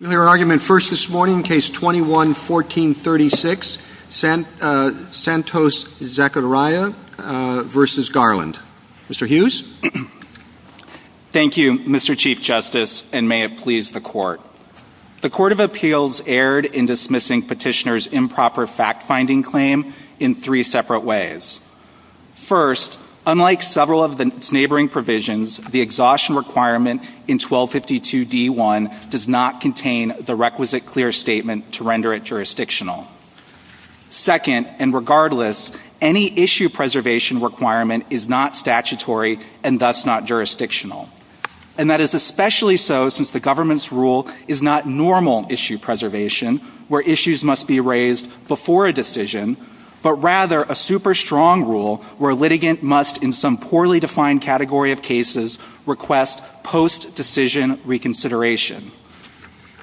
Your argument first this morning, case 21-1436, Santos-Zacaria v. Garland. Mr. Hughes? Thank you, Mr. Chief Justice, and may it please the Court. The Court of Appeals erred in dismissing Petitioner's improper fact-finding claim in three separate ways. First, unlike several of its neighboring provisions, the exhaustion requirement in 1252d1 does not contain the requisite clear statement to render it jurisdictional. Second, and regardless, any issue preservation requirement is not statutory and thus not jurisdictional. And that is especially so since the government's rule is not normal issue preservation, where issues must be raised before a decision, but rather a super-strong rule where a litigant must, in some poorly defined category of cases, request post-decision reconsideration.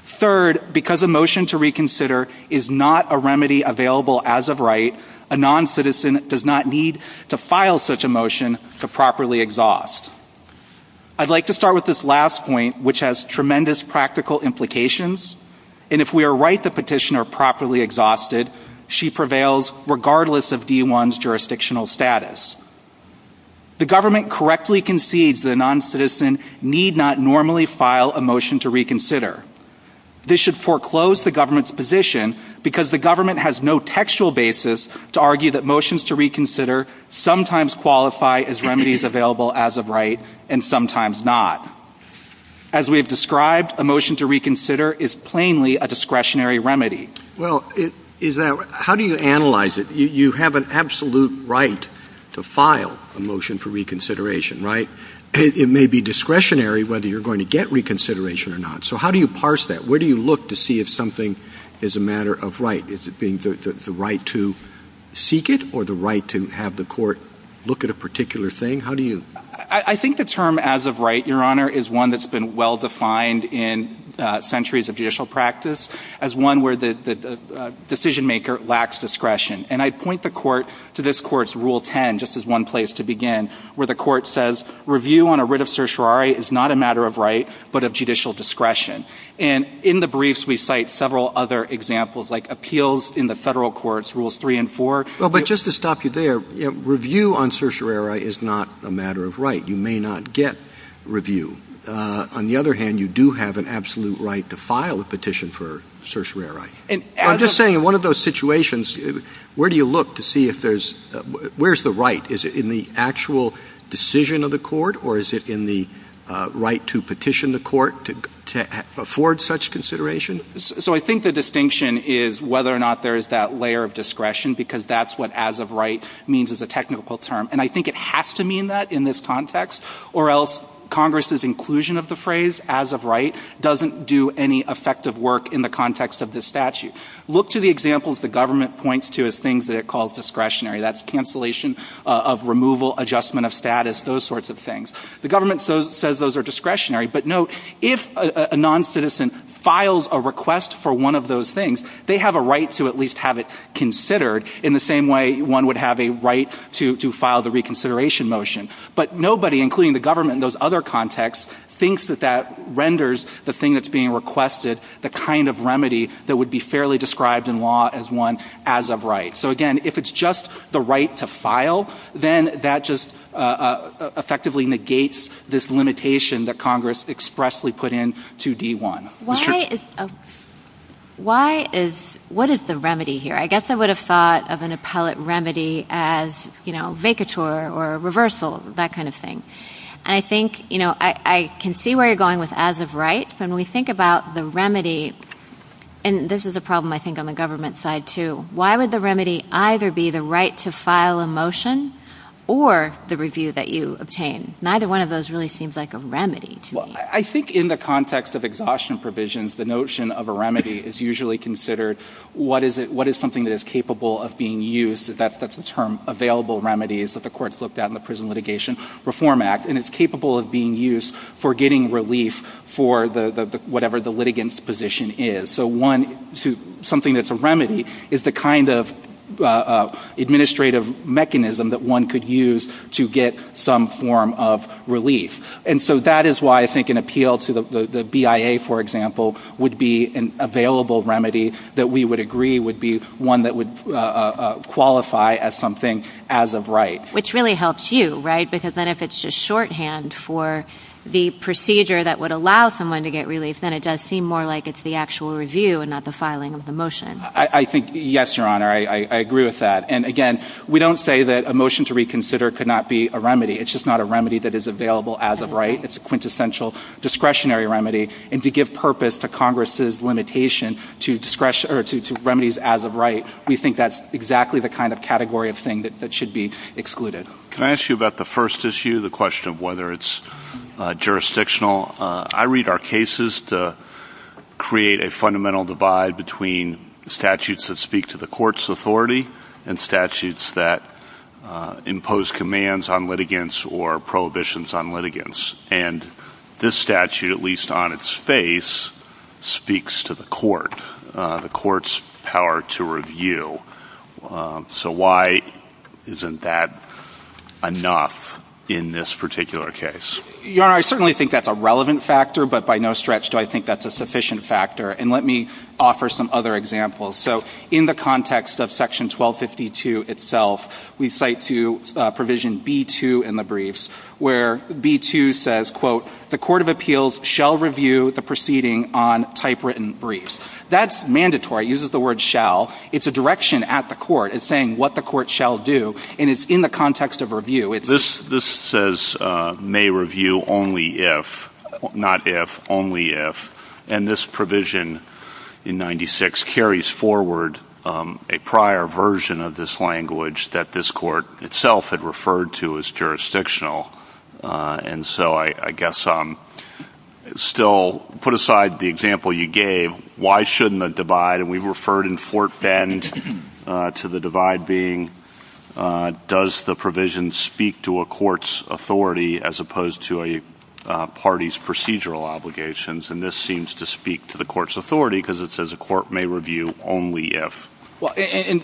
Third, because a motion to reconsider is not a remedy available as of right, a non-citizen does not need to file such a motion to properly exhaust. I'd like to start with this last point, which has tremendous practical implications. And if we are right that Petitioner properly exhausted, she prevails regardless of d1's jurisdictional status. The government correctly concedes that a non-citizen need not normally file a motion to reconsider. This should foreclose the government's position because the government has no textual basis to argue that motions to reconsider sometimes qualify as remedies available as of right and sometimes not. As we have described, a motion to reconsider is plainly a discretionary remedy. Well, is that right? How do you analyze it? You have an absolute right to file a motion for reconsideration, right? It may be discretionary whether you're going to get reconsideration or not. So how do you parse that? Where do you look to see if something is a matter of right? Is it being the right to seek it or the right to have the court look at a particular thing? How do you? I think the term as of right, Your Honor, is one that's been well-defined in centuries of judicial practice as one where the decision-maker lacks discretion. And I'd point the Court to this Court's Rule 10, just as one place to begin, where the Court says review on a writ of certiorari is not a matter of right but of judicial discretion. And in the briefs, we cite several other examples, like appeals in the Federal Courts Rules 3 and 4. Well, but just to stop you there, review on certiorari is not a matter of right. You may not get review. On the other hand, you do have an absolute right to file a petition for certiorari. I'm just saying in one of those situations, where do you look to see if there's – where's the right? Is it in the actual decision of the court or is it in the right to petition the court to afford such consideration? So I think the distinction is whether or not there is that layer of discretion, because that's what as of right means as a technical term. And I think it has to mean that in this context, or else Congress's inclusion of the phrase as of right doesn't do any effective work in the context of this statute. Look to the examples the government points to as things that it calls discretionary. That's cancellation of removal, adjustment of status, those sorts of things. The government says those are discretionary. But note, if a noncitizen files a request for one of those things, they have a right to at least have it considered in the same way one would have a right to file the reconsideration motion. But nobody, including the government in those other contexts, thinks that that renders the thing that's being requested the kind of remedy that would be fairly described in law as one as of right. So again, if it's just the right to file, then that just effectively negates this limitation that Congress expressly put in to D-1. Why is, what is the remedy here? I guess I would have thought of an appellate remedy as, you know, vacatur or reversal, that kind of thing. And I think, you know, I can see where you're going with as of right. But when we think about the remedy, and this is a problem I think on the government side too, why would the remedy either be the right to file a motion or the review that you obtain? Neither one of those really seems like a remedy to me. I think in the context of exhaustion provisions, the notion of a remedy is usually considered what is something that is capable of being used. That's the term, available remedies, that the courts looked at in the Prison Litigation Reform Act. And it's capable of being used for getting relief for whatever the litigant's position is. So one, something that's a remedy is the kind of administrative mechanism that one could use to get some form of relief. And so that is why I think an appeal to the BIA, for example, would be an available remedy that we would agree would be one that would qualify as something as of right. Which really helps you, right? Because then if it's just shorthand for the procedure that would allow someone to get relief, then it does seem more like it's the actual review and not the filing of the motion. I think, yes, Your Honor, I agree with that. And again, we don't say that a motion to reconsider could not be a remedy. It's just not a remedy that is available as of right. It's a quintessential discretionary remedy. And to give purpose to Congress's limitation to remedies as of right, we think that's exactly the kind of category of thing that should be excluded. Can I ask you about the first issue, the question of whether it's jurisdictional? I read our cases to create a fundamental divide between statutes that speak to the court's authority and statutes that impose commands on litigants or prohibitions on litigants. And this statute, at least on its face, speaks to the court, the court's power to review. So why isn't that enough in this particular case? Your Honor, I certainly think that's a relevant factor, but by no stretch do I think that's a sufficient factor. And let me offer some other examples. So in the context of Section 1252 itself, we cite to Provision B-2 in the briefs, where B-2 says, quote, the court of appeals shall review the proceeding on typewritten briefs. That's mandatory. It uses the word shall. It's a direction at the court. It's saying what the court shall do. And it's in the context of review. This says may review only if, not if, only if. And this provision in 96 carries forward a prior version of this language that this court itself had referred to as jurisdictional. And so I guess still put aside the example you gave, why shouldn't the divide, and we referred in Fort Bend to the divide being does the provision speak to a court's authority as opposed to a party's procedural obligations? And this seems to speak to the court's authority because it says a court may review only if. Well, in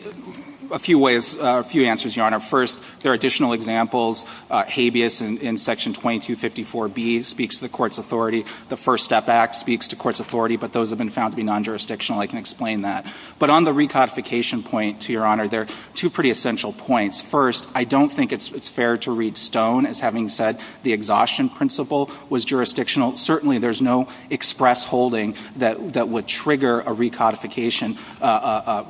a few ways, a few answers, Your Honor. First, there are additional examples. Habeas in Section 2254B speaks to the court's authority. The First Step Act speaks to court's authority, but those have been found to be non-jurisdictional. I can explain that. But on the recodification point, to Your Honor, there are two pretty essential points. First, I don't think it's fair to read stone as having said the exhaustion principle was jurisdictional. Certainly, there's no express holding that would trigger a recodification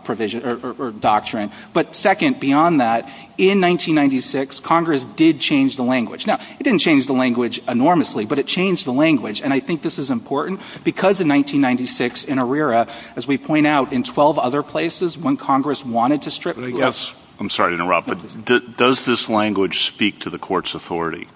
provision or doctrine. But second, beyond that, in 1996, Congress did change the language. Now, it didn't change the language enormously, but it changed the language. And I think this is important because in 1996, in ARERA, as we point out, in 12 other places, when Congress wanted to strip courts. I'm sorry to interrupt, but does this language speak to the court's authority?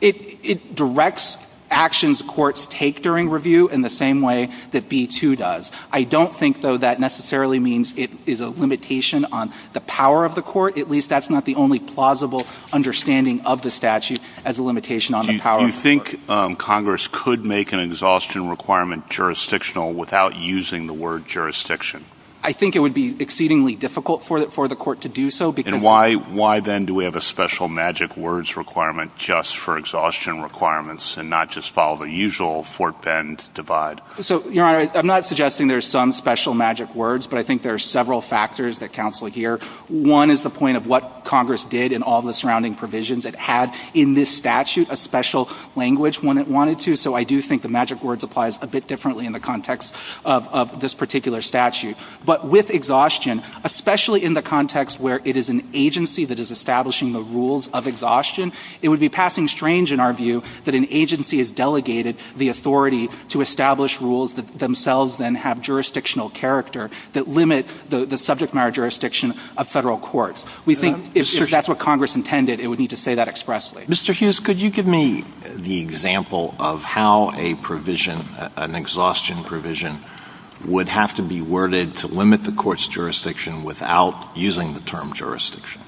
It directs actions courts take during review in the same way that B-2 does. I don't think, though, that necessarily means it is a limitation on the power of the court. At least that's not the only plausible understanding of the statute as a limitation on the power of the court. Do you think Congress could make an exhaustion requirement jurisdictional without using the word jurisdiction? I think it would be exceedingly difficult for the court to do so because — And why then do we have a special magic words requirement just for exhaustion requirements and not just follow the usual Fort Bend divide? So, Your Honor, I'm not suggesting there's some special magic words, but I think there are several factors that counsel here. One is the point of what Congress did in all the surrounding provisions. It had in this statute a special language when it wanted to. So I do think the magic words applies a bit differently in the context of this particular statute. But with exhaustion, especially in the context where it is an agency that is establishing the rules of exhaustion, it would be passing strange in our view that an agency has delegated the authority to establish rules that themselves then have jurisdictional character that limit the subject matter jurisdiction of Federal courts. We think if that's what Congress intended, it would need to say that expressly. Mr. Hughes, could you give me the example of how a provision, an exhaustion provision, would have to be worded to limit the court's jurisdiction without using the term jurisdiction?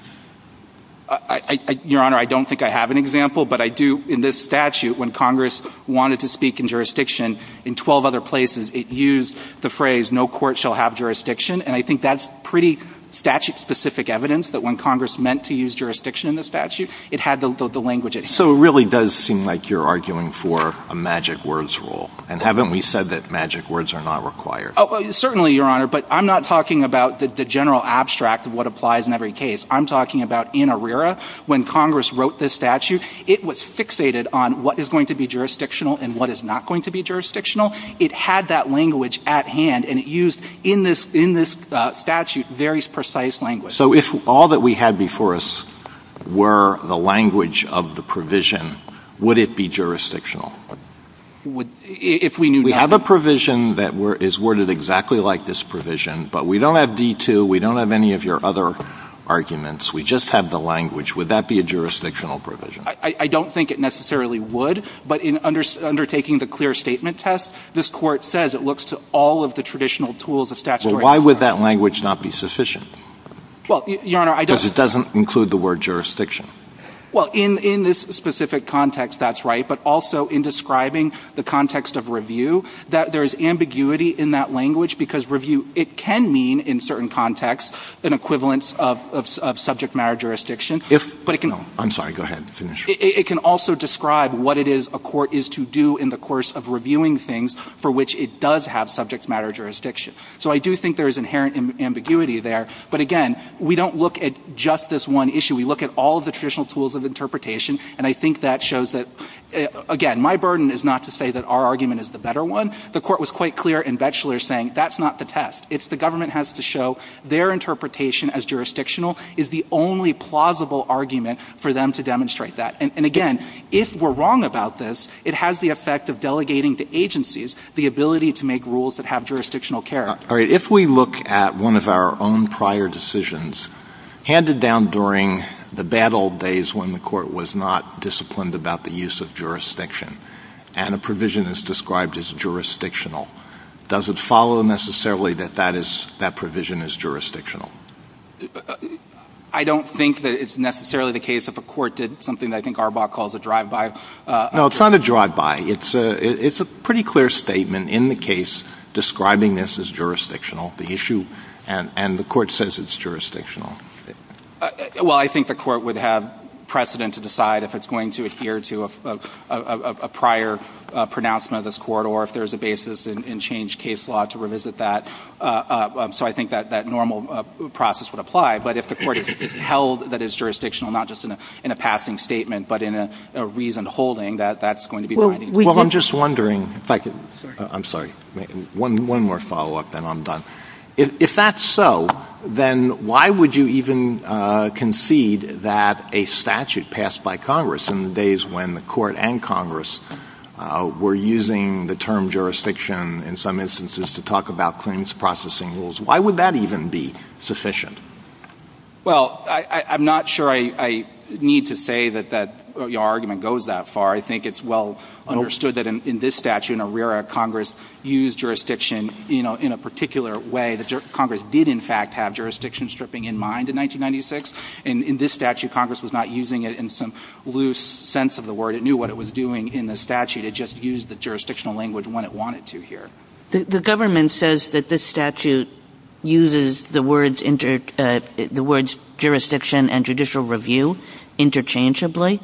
Your Honor, I don't think I have an example. But I do in this statute, when Congress wanted to speak in jurisdiction in 12 other places, it used the phrase, no court shall have jurisdiction. And I think that's pretty statute-specific evidence that when Congress meant to use jurisdiction in the statute, it had the language it had. So it really does seem like you're arguing for a magic words rule. And haven't we said that magic words are not required? Certainly, Your Honor. But I'm not talking about the general abstract of what applies in every case. I'm talking about in ARERA when Congress wrote this statute. It was fixated on what is going to be jurisdictional and what is not going to be jurisdictional. It had that language at hand. And it used, in this statute, very precise language. So if all that we had before us were the language of the provision, would it be jurisdictional? If we knew nothing. We have a provision that is worded exactly like this provision. But we don't have D-2. We don't have any of your other arguments. We just have the language. Would that be a jurisdictional provision? I don't think it necessarily would. But in undertaking the clear statement test, this Court says it looks to all of the traditional tools of statutory authority. Well, why would that language not be sufficient? Well, Your Honor, I don't. Because it doesn't include the word jurisdiction. Well, in this specific context, that's right. But also in describing the context of review, there is ambiguity in that language because review, it can mean in certain contexts an equivalence of subject matter jurisdiction. But it can also describe what it is a court is to do in the course of reviewing things for which it does have subject matter jurisdiction. So I do think there is inherent ambiguity there. But again, we don't look at just this one issue. We look at all of the traditional tools of interpretation. And I think that shows that, again, my burden is not to say that our argument is the better one. The Court was quite clear in Batchelor saying that's not the test. It's the government has to show their interpretation as jurisdictional is the only plausible argument for them to demonstrate that. And again, if we're wrong about this, it has the effect of delegating to agencies the ability to make rules that have jurisdictional character. All right. If we look at one of our own prior decisions handed down during the bad old days when the Court was not disciplined about the use of jurisdiction and a provision is described as jurisdictional, does it follow necessarily that that provision is jurisdictional? I don't think that it's necessarily the case if a court did something that I think Arbach calls a drive-by. No, it's not a drive-by. It's a pretty clear statement in the case describing this as jurisdictional, the issue. And the Court says it's jurisdictional. Well, I think the Court would have precedent to decide if it's going to adhere to a prior pronouncement of this Court or if there's a basis in changed case law to revisit that. So I think that that normal process would apply. But if the Court has held that it's jurisdictional not just in a passing statement but in a reasoned holding, that that's going to be binding. Well, I'm just wondering if I could. I'm sorry. One more follow-up, then I'm done. If that's so, then why would you even concede that a statute passed by Congress in the days when the Court and Congress were using the term jurisdiction in some instances to talk about claims processing rules, why would that even be sufficient? Well, I'm not sure I need to say that your argument goes that far. I think it's well understood that in this statute, in ARERA, Congress used jurisdiction in a particular way. Congress did, in fact, have jurisdiction stripping in mind in 1996. And in this statute, Congress was not using it in some loose sense of the word. It knew what it was doing in the statute. It just used the jurisdictional language when it wanted to here. The government says that this statute uses the words jurisdiction and judicial review interchangeably.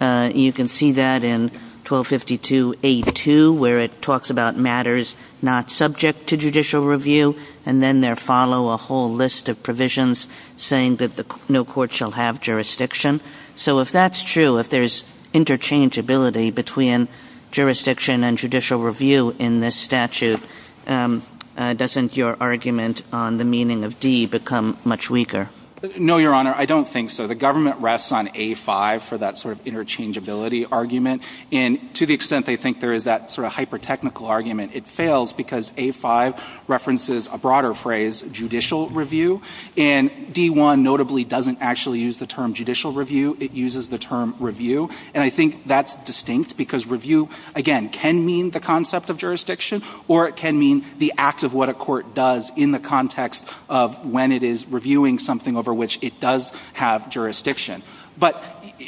You can see that in 1252A2 where it talks about matters not subject to judicial review and then there follow a whole list of provisions saying that no court shall have jurisdiction. So if that's true, if there's interchangeability between jurisdiction and judicial review in this statute, doesn't your argument on the meaning of D become much weaker? No, Your Honor. I don't think so. The government rests on A5 for that sort of interchangeability argument. And to the extent they think there is that sort of hypertechnical argument, it fails because A5 references a broader phrase, judicial review. And D1 notably doesn't actually use the term judicial review. It uses the term review. And I think that's distinct because review, again, can mean the concept of jurisdiction or it can mean the act of what a court does in the context of when it is reviewing something over which it does have jurisdiction. But,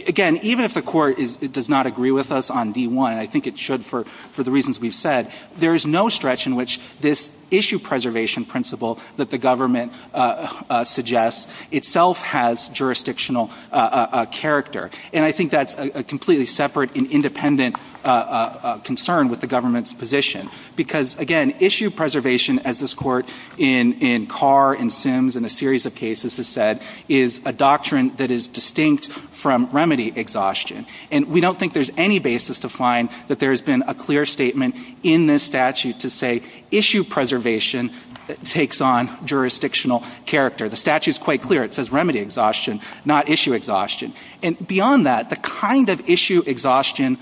again, even if the court does not agree with us on D1, I think it should for the reasons we've said, there is no stretch in which this issue preservation principle that the government suggests itself has jurisdictional character. And I think that's a completely separate and independent concern with the government's position. Because, again, issue preservation, as this Court in Carr and Sims and a series of cases has said, is a doctrine that is distinct from remedy exhaustion. And we don't think there's any basis to find that there has been a clear statement in this statute to say issue preservation takes on jurisdictional character. The statute is quite clear. It says remedy exhaustion, not issue exhaustion. And beyond that, the kind of issue exhaustion,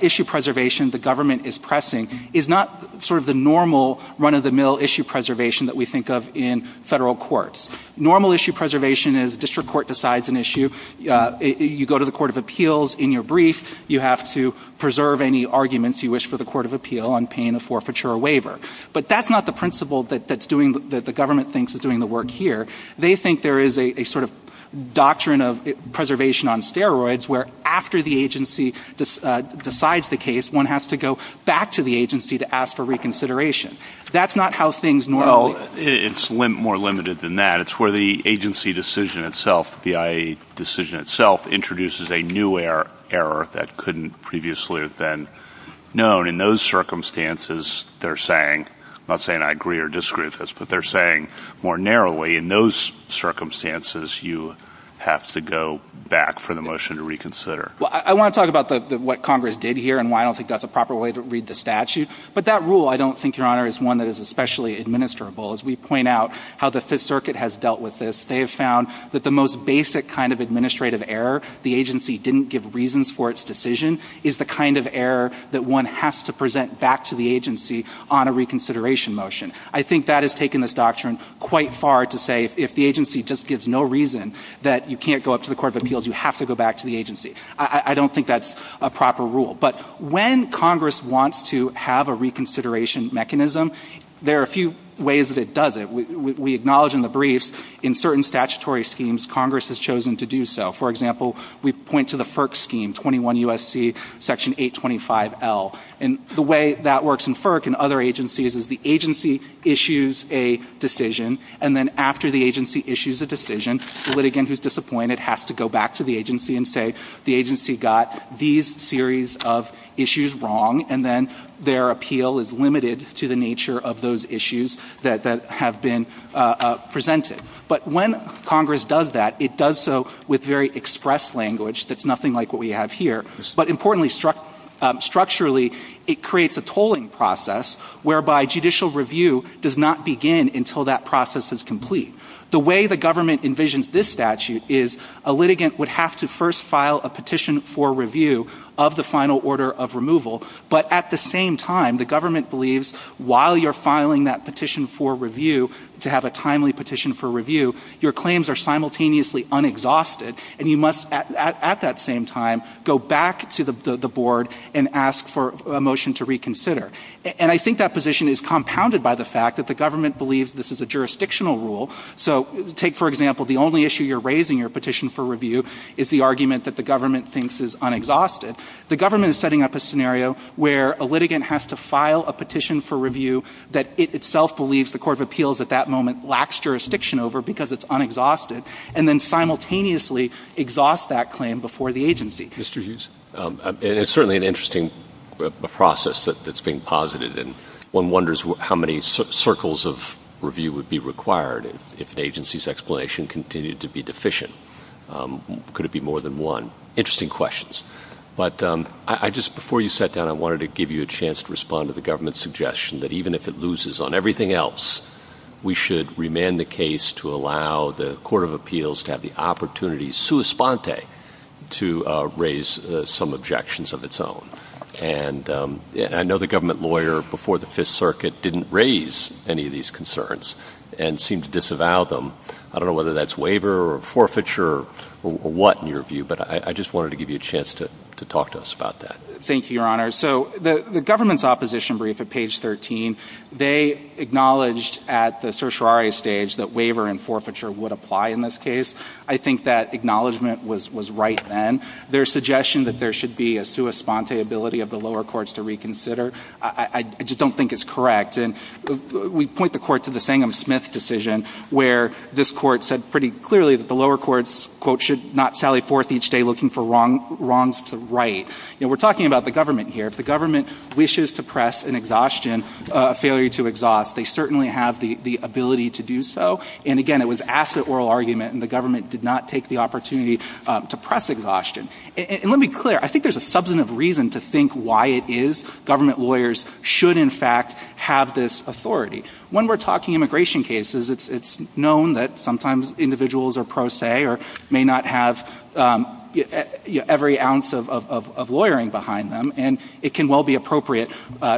issue preservation, the government is pressing is not sort of the normal run-of-the-mill issue preservation that we think of in federal courts. Normal issue preservation is district court decides an issue. You go to the Court of Appeals in your brief. You have to preserve any arguments you wish for the Court of Appeal on paying a forfeiture or waiver. But that's not the principle that the government thinks is doing the work here. They think there is a sort of doctrine of preservation on steroids where after the agency decides the case, one has to go back to the agency to ask for reconsideration. That's not how things normally go. Well, it's more limited than that. It's where the agency decision itself, the IAEA decision itself, introduces a new error that couldn't previously have been known. In those circumstances, they're saying, I'm not saying I agree or disagree with this, but they're saying more narrowly, in those circumstances, you have to go back for the motion to reconsider. Well, I want to talk about what Congress did here and why I don't think that's a proper way to read the statute. But that rule, I don't think, Your Honor, is one that is especially administrable. As we point out how the Fifth Circuit has dealt with this, they have found that the most basic kind of administrative error, the agency didn't give reasons for its decision, is the kind of error that one has to present back to the agency on a reconsideration motion. I think that has taken this doctrine quite far to say if the agency just gives no reason that you can't go up to the Court of Appeals, you have to go back to the agency. I don't think that's a proper rule. But when Congress wants to have a reconsideration mechanism, there are a few ways that it does it. We acknowledge in the briefs in certain statutory schemes Congress has chosen to do so. For example, we point to the FERC scheme, 21 U.S.C. Section 825L. And the way that works in FERC and other agencies is the agency issues a decision and then after the agency issues a decision, the litigant who is disappointed has to go back to the agency and say the agency got these series of issues wrong and then their appeal is limited to the nature of those issues that have been presented. But when Congress does that, it does so with very express language that's nothing like what we have here. But importantly, structurally, it creates a tolling process whereby judicial review does not begin until that process is complete. The way the government envisions this statute is a litigant would have to first file a petition for review of the final order of removal. But at the same time, the government believes while you're filing that petition for review, to have a timely petition for review, your claims are simultaneously unexhausted and you must at that same time go back to the board and ask for a motion to reconsider. And I think that position is compounded by the fact that the government believes this is a jurisdictional rule. So take, for example, the only issue you're raising your petition for review is the argument that the government thinks is unexhausted. The government is setting up a scenario where a litigant has to file a petition for review that it itself believes the court of appeals at that moment lacks jurisdiction over because it's unexhausted, and then simultaneously exhaust that claim before the agency. Mr. Hughes? It's certainly an interesting process that's being posited. And one wonders how many circles of review would be required if an agency's explanation continued to be deficient. Could it be more than one? Interesting questions. But I just, before you sat down, I wanted to give you a chance to respond to the government's suggestion that even if it loses on everything else, we should remain the case to allow the court of appeals to have the opportunity, sua sponte, to raise some objections of its own. And I know the government lawyer before the Fifth Circuit didn't raise any of these concerns and seemed to disavow them. I don't know whether that's waiver or forfeiture or what in your view, but I just wanted to give you a chance to talk to us about that. Thank you, Your Honor. So the government's opposition brief at page 13, they acknowledged at the trial stage that waiver and forfeiture would apply in this case. I think that acknowledgment was right then. Their suggestion that there should be a sua sponte ability of the lower courts to reconsider, I just don't think is correct. And we point the court to the Sangham-Smith decision where this court said pretty clearly that the lower courts, quote, should not sally forth each day looking for wrongs to right. You know, we're talking about the government here. If the government wishes to press an exhaustion, a failure to exhaust, they certainly have the ability to do so. And, again, it was an asset oral argument and the government did not take the opportunity to press exhaustion. And let me be clear. I think there's a substantive reason to think why it is government lawyers should, in fact, have this authority. When we're talking immigration cases, it's known that sometimes individuals are pro se or may not have every ounce of lawyering behind them. And it can well be appropriate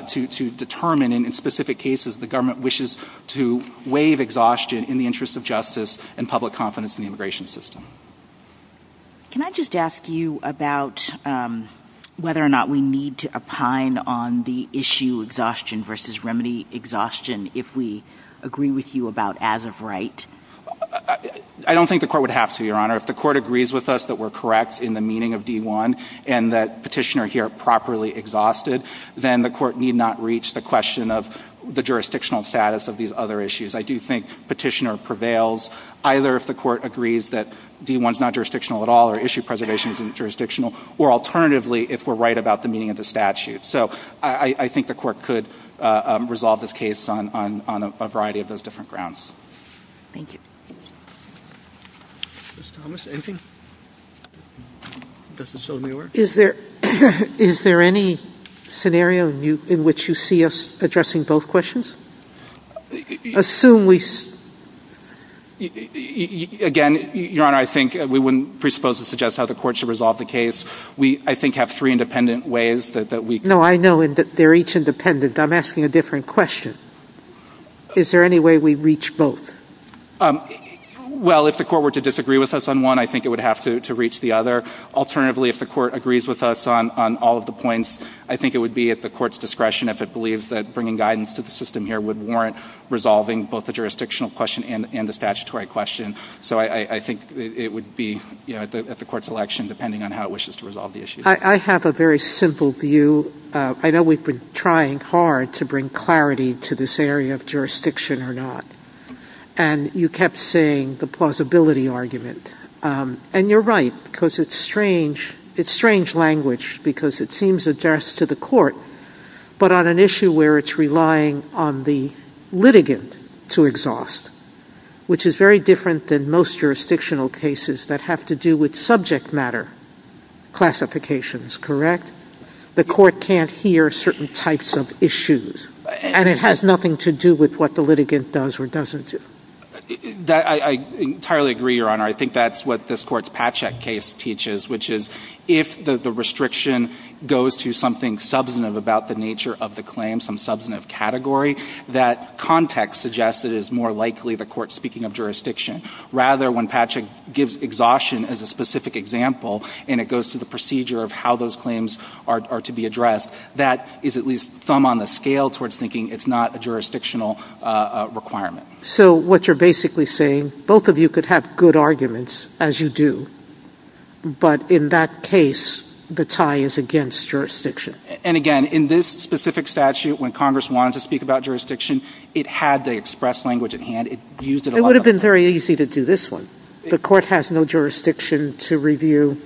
to determine in specific cases the government wishes to waive exhaustion in the interest of justice and public confidence in the immigration system. Can I just ask you about whether or not we need to opine on the issue exhaustion versus remedy exhaustion if we agree with you about as of right? I don't think the court would have to, Your Honor. If the court agrees with us that we're correct in the meaning of D1 and that petitioner here properly exhausted, then the court need not reach the question of the jurisdictional status of these other issues. I do think petitioner prevails either if the court agrees that D1 is not jurisdictional at all or issue preservation is jurisdictional or alternatively if we're right about the meaning of the statute. So I think the court could resolve this case on a variety of those different grounds. Thank you. Ms. Thomas, anything? Does this still need work? Is there any scenario in which you see us addressing both questions? Assume we see... Again, Your Honor, I think we wouldn't presuppose to suggest how the court should resolve the case. We, I think, have three independent ways that we... No, I know they're each independent. I'm asking a different question. Is there any way we reach both? Well, if the court were to disagree with us on one, I think it would have to reach the other. Alternatively, if the court agrees with us on all of the points, I think it would be at the court's discretion if it believes that bringing guidance to the system here would warrant resolving both the jurisdictional question and the statutory question. So I think it would be at the court's election depending on how it wishes to resolve the issue. I have a very simple view. I know we've been trying hard to bring clarity to this area of jurisdiction or not. And you kept saying the plausibility argument. And you're right because it's strange language because it seems addressed to the court. But on an issue where it's relying on the litigant to exhaust, which is very different than most jurisdictional cases that have to do with subject matter classifications, correct? The court can't hear certain types of issues. And it has nothing to do with what the litigant does or doesn't do. I entirely agree, Your Honor. I think that's what this court's Patchak case teaches, which is if the restriction goes to something substantive about the nature of the claim, some substantive category, that context suggests it is more likely the court's speaking of jurisdiction. Rather, when Patchak gives exhaustion as a specific example and it goes to the procedure of how those claims are to be addressed, that is at least thumb on the scale towards thinking it's not a jurisdictional requirement. So what you're basically saying, both of you could have good arguments, as you do, but in that case, the tie is against jurisdiction. And again, in this specific statute, when Congress wanted to speak about jurisdiction, it had the express language at hand. It used it a lot. It would have been very easy to do this one. The court has no jurisdiction to review,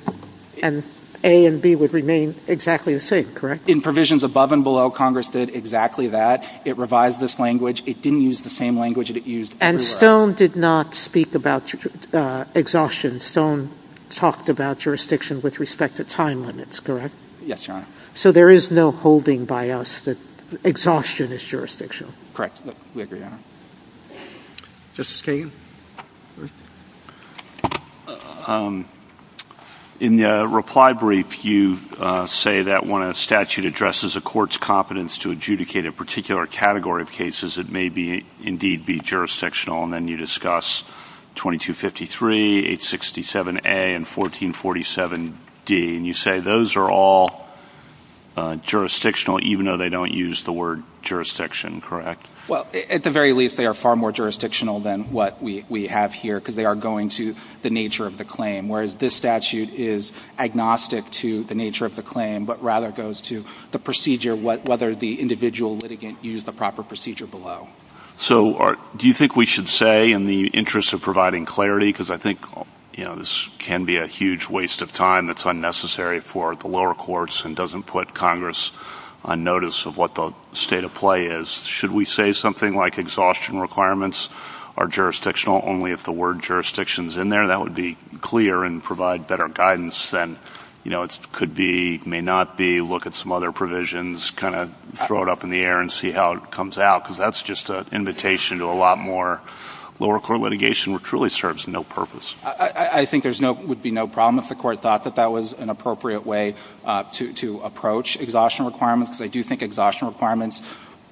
and A and B would remain exactly the same, correct? In provisions above and below, Congress did exactly that. It revised this language. It didn't use the same language that it used everywhere else. And Stone did not speak about exhaustion. Stone talked about jurisdiction with respect to time limits, correct? Yes, Your Honor. So there is no holding by us that exhaustion is jurisdictional? Correct. We agree, Your Honor. Justice Kagan? In the reply brief, you say that when a statute addresses a court's competence to adjudicate a particular category of cases, it may indeed be jurisdictional. And then you discuss 2253, 867A, and 1447D, and you say those are all jurisdictional, even though they don't use the word jurisdiction, correct? Well, at the very least, they are far more jurisdictional than what we have here, because they are going to the nature of the claim, whereas this statute is agnostic to the nature of the claim, but rather goes to the procedure, whether the individual litigant used the proper procedure below. So do you think we should say, in the interest of providing clarity, because I think this can be a huge waste of time that's unnecessary for the lower courts and doesn't put Congress on notice of what the state of play is, should we say something like exhaustion requirements are jurisdictional only if the word jurisdiction is in there? That would be clear and provide better guidance than it could be, may not be. Maybe look at some other provisions, kind of throw it up in the air and see how it comes out, because that's just an invitation to a lot more lower court litigation, which truly serves no purpose. I think there would be no problem if the Court thought that that was an appropriate way to approach exhaustion requirements, because I do think exhaustion requirements,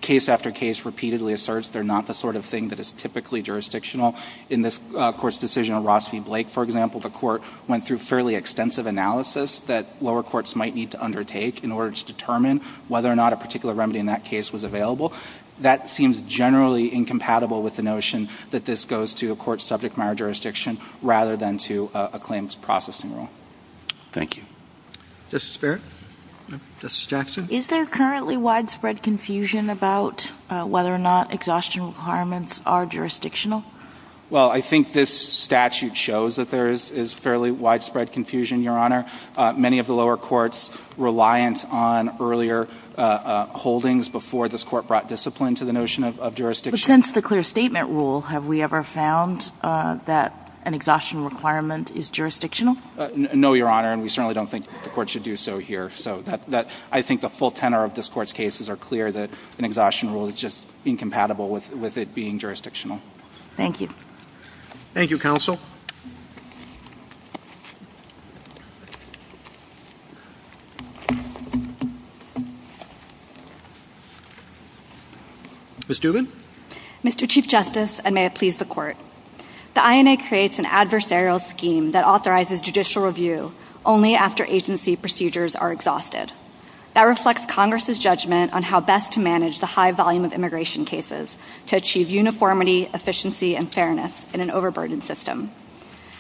case after case, repeatedly asserts they're not the sort of thing that is typically jurisdictional. In this Court's decision on Ross v. Blake, for example, the Court went through a fairly extensive analysis that lower courts might need to undertake in order to determine whether or not a particular remedy in that case was available. That seems generally incompatible with the notion that this goes to a court's subject matter jurisdiction rather than to a claims processing rule. Thank you. Justice Barrett? Justice Jackson? Is there currently widespread confusion about whether or not exhaustion requirements are jurisdictional? Well, I think this statute shows that there is fairly widespread confusion, Your Honor. Many of the lower courts reliant on earlier holdings before this Court brought discipline to the notion of jurisdiction. But since the clear statement rule, have we ever found that an exhaustion requirement is jurisdictional? No, Your Honor, and we certainly don't think the Court should do so here. So I think the full tenor of this Court's cases are clear that an exhaustion rule is just incompatible with it being jurisdictional. Thank you. Thank you, Counsel. Ms. Dubin? Mr. Chief Justice, and may it please the Court, the INA creates an adversarial scheme that authorizes judicial review only after agency procedures are exhausted. That reflects Congress's judgment on how best to manage the high volume of immigration cases to achieve uniformity, efficiency, and fairness in an overburdened system.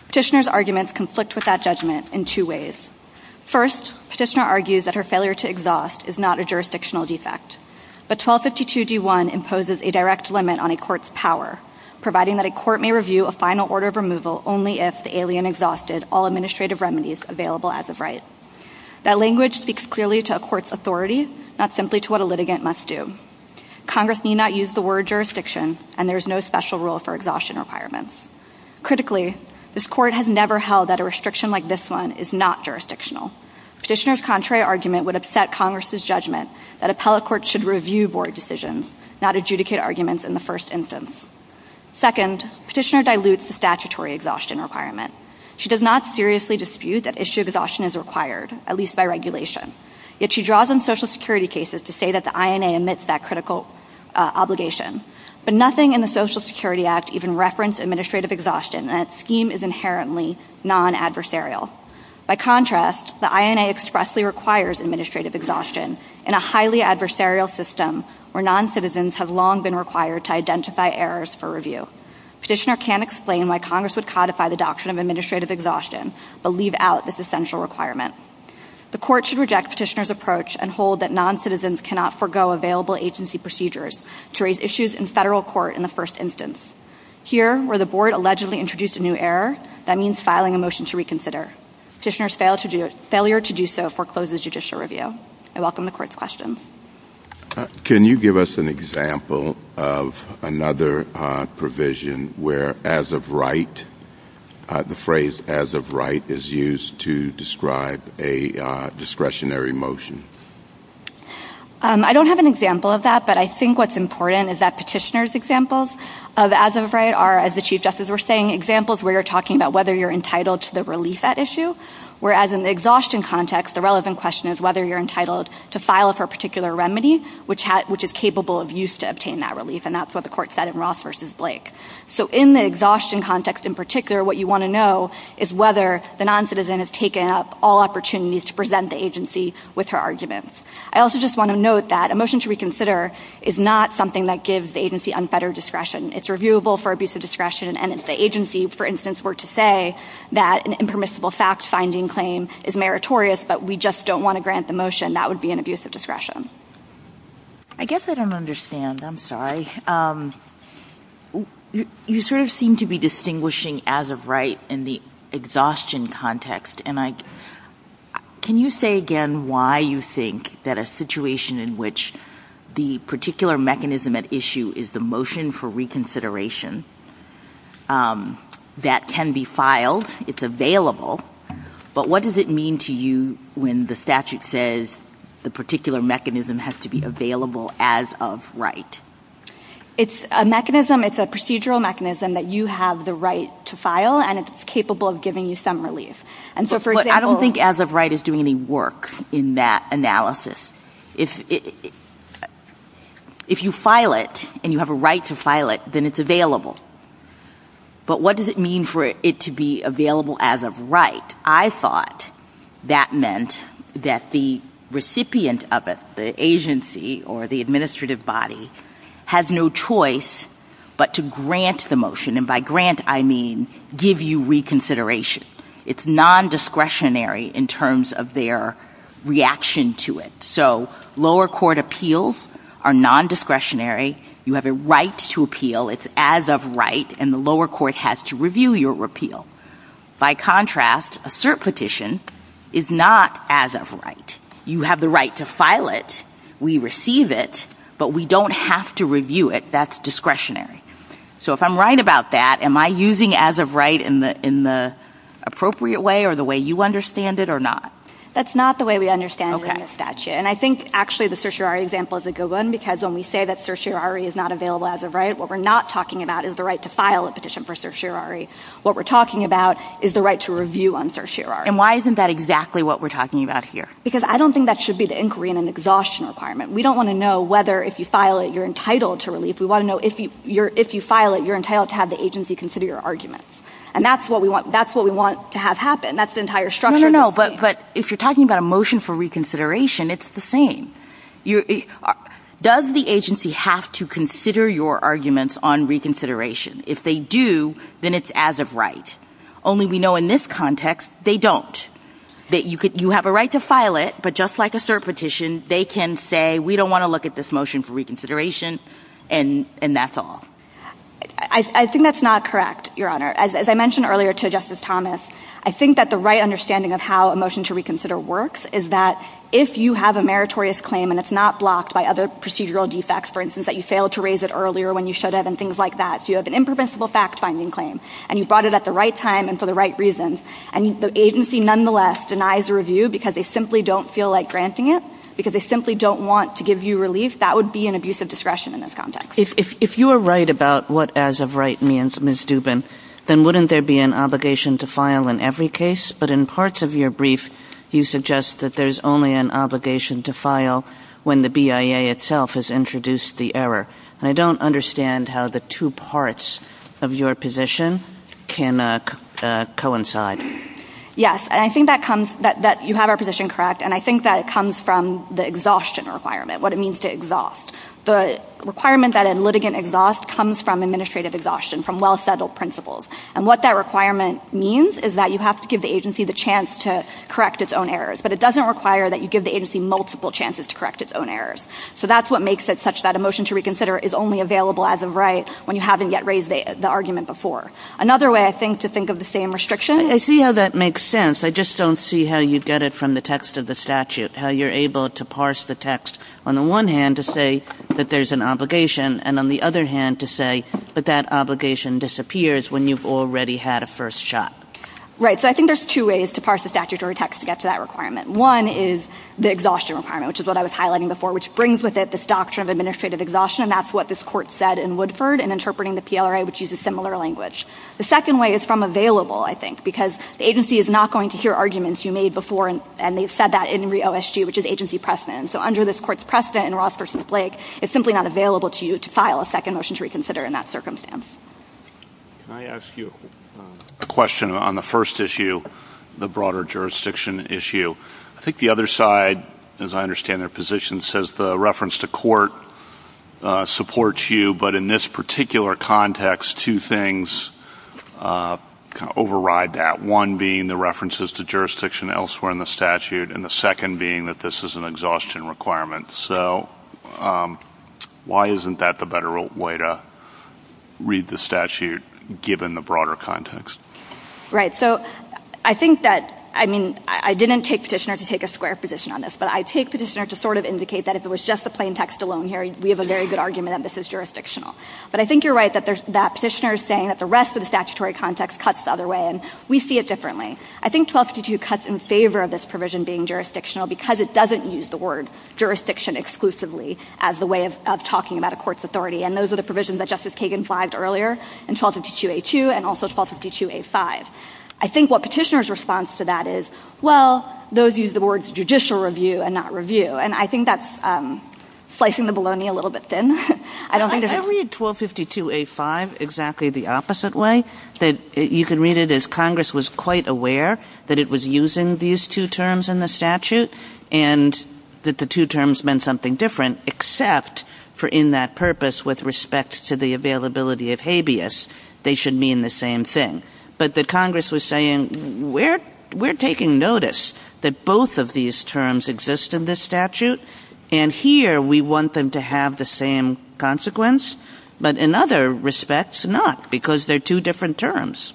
Petitioner's arguments conflict with that judgment in two ways. First, Petitioner argues that her failure to exhaust is not a jurisdictional defect. But 1252d1 imposes a direct limit on a court's power, providing that a court may review a final order of removal only if the alien exhausted all administrative remedies available as of right. That language speaks clearly to a court's authority, not simply to what a litigant must do. Congress need not use the word jurisdiction, and there is no special rule for exhaustion requirements. Critically, this Court has never held that a restriction like this one is not jurisdictional. Petitioner's contrary argument would upset Congress's judgment that appellate courts should review board decisions, not adjudicate arguments in the first instance. Second, Petitioner dilutes the statutory exhaustion requirement. She does not seriously dispute that issue exhaustion is required, at least by regulation. Yet she draws on Social Security cases to say that the INA omits that critical obligation. But nothing in the Social Security Act even referenced administrative exhaustion, and that scheme is inherently non-adversarial. By contrast, the INA expressly requires administrative exhaustion in a highly adversarial system where non-citizens have long been required to identify errors for review. Petitioner can explain why Congress would codify the doctrine of administrative exhaustion, but leave out this essential requirement. The Court should reject Petitioner's approach and hold that non-citizens cannot forego available agency procedures to raise issues in federal court in the first instance. Here, where the board allegedly introduced a new error, that means filing a motion to reconsider. Petitioner's failure to do so forecloses judicial review. I welcome the Court's questions. Can you give us an example of another provision where as of right, the phrase as of right is used to describe a discretionary motion? I don't have an example of that, but I think what's important is that Petitioner's examples of as of right are, as the Chief Justice was saying, examples where you're talking about whether you're entitled to the relief at issue, whereas in the exhaustion context, the relevant question is whether you're entitled to file for a particular remedy, which is capable of use to obtain that relief, and that's what the Court said in Ross v. Blake. So in the exhaustion context in particular, what you want to know is whether the non-citizen has taken up all opportunities to present the agency with her arguments. I also just want to note that a motion to reconsider is not something that gives the agency unfettered discretion. It's reviewable for abuse of discretion, and if the agency, for instance, were to say that an impermissible fact-finding claim is meritorious, but we just don't want to grant the motion, that would be an abuse of discretion. I guess I don't understand. I'm sorry. You sort of seem to be distinguishing as of right in the exhaustion context, and can you say again why you think that a situation in which the particular mechanism at issue is the motion for reconsideration that can be filed, it's when the statute says the particular mechanism has to be available as of right? It's a mechanism. It's a procedural mechanism that you have the right to file, and it's capable of giving you some relief. I don't think as of right is doing any work in that analysis. If you file it and you have a right to file it, then it's available. But what does it mean for it to be available as of right? I thought that meant that the recipient of it, the agency or the administrative body, has no choice but to grant the motion, and by grant I mean give you reconsideration. It's nondiscretionary in terms of their reaction to it. So lower court appeals are nondiscretionary. You have a right to appeal. It's as of right, and the lower court has to review your appeal. By contrast, a cert petition is not as of right. You have the right to file it. We receive it, but we don't have to review it. That's discretionary. So if I'm right about that, am I using as of right in the appropriate way or the way you understand it or not? That's not the way we understand it in the statute, and I think actually the certiorari example is a good one because when we say that certiorari is not available as of right, what we're not talking about is the right to file a petition for certiorari. What we're talking about is the right to review on certiorari. And why isn't that exactly what we're talking about here? Because I don't think that should be the inquiry in an exhaustion requirement. We don't want to know whether if you file it, you're entitled to relief. We want to know if you file it, you're entitled to have the agency consider your arguments, and that's what we want to have happen. That's the entire structure. No, no, no, but if you're talking about a motion for reconsideration, it's the same. Does the agency have to consider your arguments on reconsideration? If they do, then it's as of right. Only we know in this context, they don't. You have a right to file it, but just like a cert petition, they can say, we don't want to look at this motion for reconsideration, and that's all. I think that's not correct, Your Honor. As I mentioned earlier to Justice Thomas, I think that the right understanding of how a motion to reconsider works is that if you have a meritorious claim and it's not blocked by other procedural defects, for instance, that you failed to raise it earlier when you should have and things like that, so you have an impermissible fact-finding claim, and you brought it at the right time and for the right reasons, and the agency nonetheless denies a review because they simply don't feel like granting it, because they simply don't want to give you relief, that would be an abuse of discretion in this context. If you are right about what as of right means, Ms. Dubin, then wouldn't there be an obligation to file in every case? But in parts of your brief, you suggest that there's only an obligation to file when the BIA itself has introduced the error, and I don't understand how the two parts of your position can coincide. Yes. And I think that you have our position correct, and I think that it comes from the exhaustion requirement, what it means to exhaust. The requirement that a litigant exhaust comes from administrative exhaustion, from well-settled principles, and what that requirement means is that you have to give the agency the chance to correct its own errors, but it doesn't require that you give the agency multiple chances to correct its own errors. So that's what makes it such that a motion to reconsider is only available as of right when you haven't yet raised the argument before. Another way, I think, to think of the same restriction. I see how that makes sense. I just don't see how you get it from the text of the statute, how you're able to parse the text on the one hand to say that there's an obligation and on the other hand to say that that obligation disappears when you've already had a first shot. Right. So I think there's two ways to parse the statutory text to get to that requirement. One is the exhaustion requirement, which is what I was highlighting before, which brings with it this doctrine of administrative exhaustion, and that's what this court said in Woodford in interpreting the PLRA, which uses similar language. The second way is from available, I think, because the agency is not going to hear arguments you made before, and they've said that in re-OSG, which is agency precedent. So under this court's precedent in Ross v. Blake, it's simply not available to you to file a second motion to reconsider in that circumstance. Can I ask you a question on the first issue, the broader jurisdiction issue? I think the other side, as I understand their position, says the reference to court supports you, but in this particular context, two things override that. One being the references to jurisdiction elsewhere in the statute, and the second being that this is an exhaustion requirement. So why isn't that the better way to read the statute, given the broader context? Right. So I think that, I mean, I didn't take petitioner to take a square position on this, but I take petitioner to sort of indicate that if it was just the plain text alone here, we have a very good argument that this is jurisdictional. But I think you're right that petitioner is saying that the rest of the statutory context cuts the other way, and we see it differently. I think 1252 cuts in favor of this provision being jurisdictional because it doesn't use the word jurisdiction exclusively as the way of talking about a court's authority, and those are the provisions that Justice Kagan flagged earlier in 1252a2 and also 1252a5. I think what petitioner's response to that is, well, those use the words judicial review and not review. And I think that's slicing the bologna a little bit thin. I don't think there's a – I read 1252a5 exactly the opposite way, that you can read it as Congress was quite aware that it was using these two terms in the statute and that the two terms meant something different, except for in that purpose with respect to the availability of habeas, they should mean the same thing. But that Congress was saying, we're taking notice that both of these terms exist in this statute, and here we want them to have the same consequence. But in other respects, not, because they're two different terms.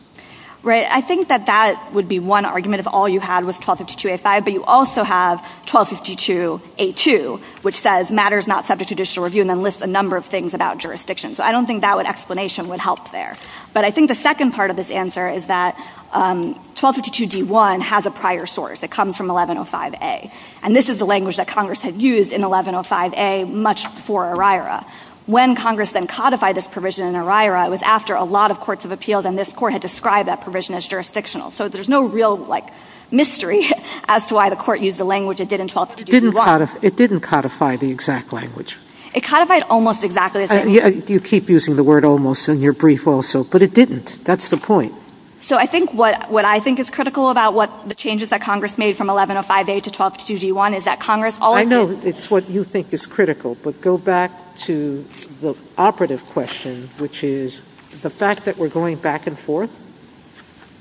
Right. I think that that would be one argument if all you had was 1252a5, but you also have 1252a2, which says matters not subject to judicial review and then lists a number of things about jurisdiction. So I don't think that explanation would help there. But I think the second part of this answer is that 1252d1 has a prior source. It comes from 1105a. And this is the language that Congress had used in 1105a much before ORIRA. When Congress then codified this provision in ORIRA, it was after a lot of courts of appeals, and this Court had described that provision as jurisdictional. So there's no real, like, mystery as to why the Court used the language it did in 1252d1. It didn't codify the exact language. It codified almost exactly the same. You keep using the word almost in your brief also, but it didn't. That's the point. So I think what I think is critical about what the changes that Congress made from 1105a to 1252d1 is that Congress all of the time. Sotomayor, I know it's what you think is critical, but go back to the operative question, which is the fact that we're going back and forth,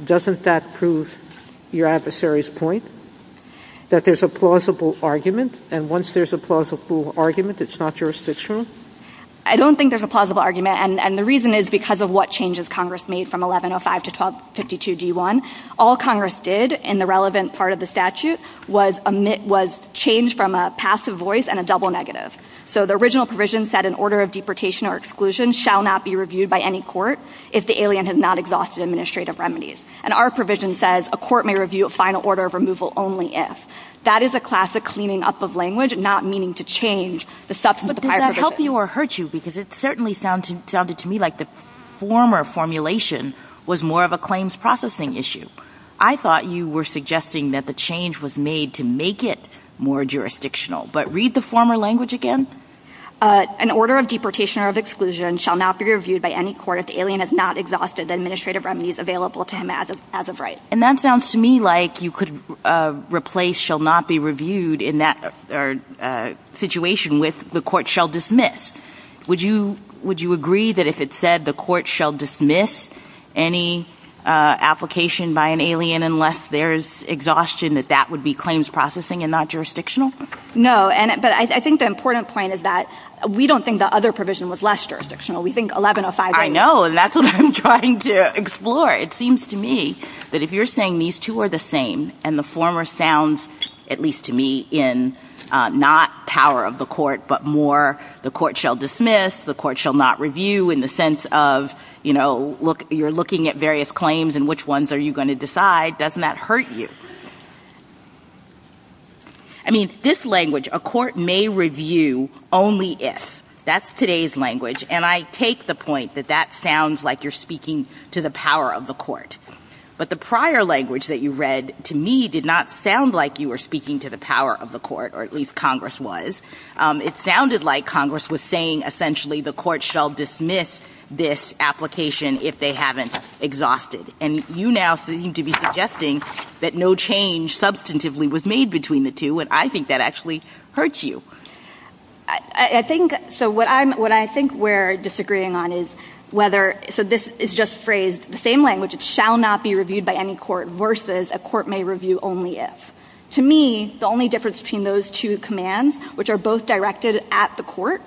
doesn't that prove your adversary's point, that there's a plausible argument? And once there's a plausible argument, it's not jurisdictional? I don't think there's a plausible argument. And the reason is because of what changes Congress made from 1105 to 1252d1. All Congress did in the relevant part of the statute was change from a passive voice and a double negative. So the original provision said an order of deportation or exclusion shall not be reviewed by any court if the alien has not exhausted administrative remedies. And our provision says a court may review a final order of removal only if. That is a classic cleaning up of language, not meaning to change the substance of the prior provision. But does that help you or hurt you? Because it certainly sounded to me like the former formulation was more of a claims processing issue. I thought you were suggesting that the change was made to make it more jurisdictional. But read the former language again. An order of deportation or of exclusion shall not be reviewed by any court if the alien has not exhausted the administrative remedies available to him as of right. And that sounds to me like you could replace shall not be reviewed in that particular situation with the court shall dismiss. Would you agree that if it said the court shall dismiss any application by an alien unless there is exhaustion that that would be claims processing and not jurisdictional? No. But I think the important point is that we don't think the other provision was less jurisdictional. We think 1105. I know. And that's what I'm trying to explore. It seems to me that if you're saying these two are the same and the former sounds at least to me in not power of the court but more the court shall dismiss, the court shall not review in the sense of, you know, you're looking at various claims and which ones are you going to decide, doesn't that hurt you? I mean, this language, a court may review only if. That's today's language. And I take the point that that sounds like you're speaking to the power of the court. But the prior language that you read to me did not sound like you were speaking to the power of the court or at least Congress was. It sounded like Congress was saying essentially the court shall dismiss this application if they haven't exhausted. And you now seem to be suggesting that no change substantively was made between the two. And I think that actually hurts you. I think so what I'm what I think we're disagreeing on is whether so this is just phrased the same language, it shall not be reviewed by any court versus a court may review only if. To me, the only difference between those two commands, which are both directed at the court,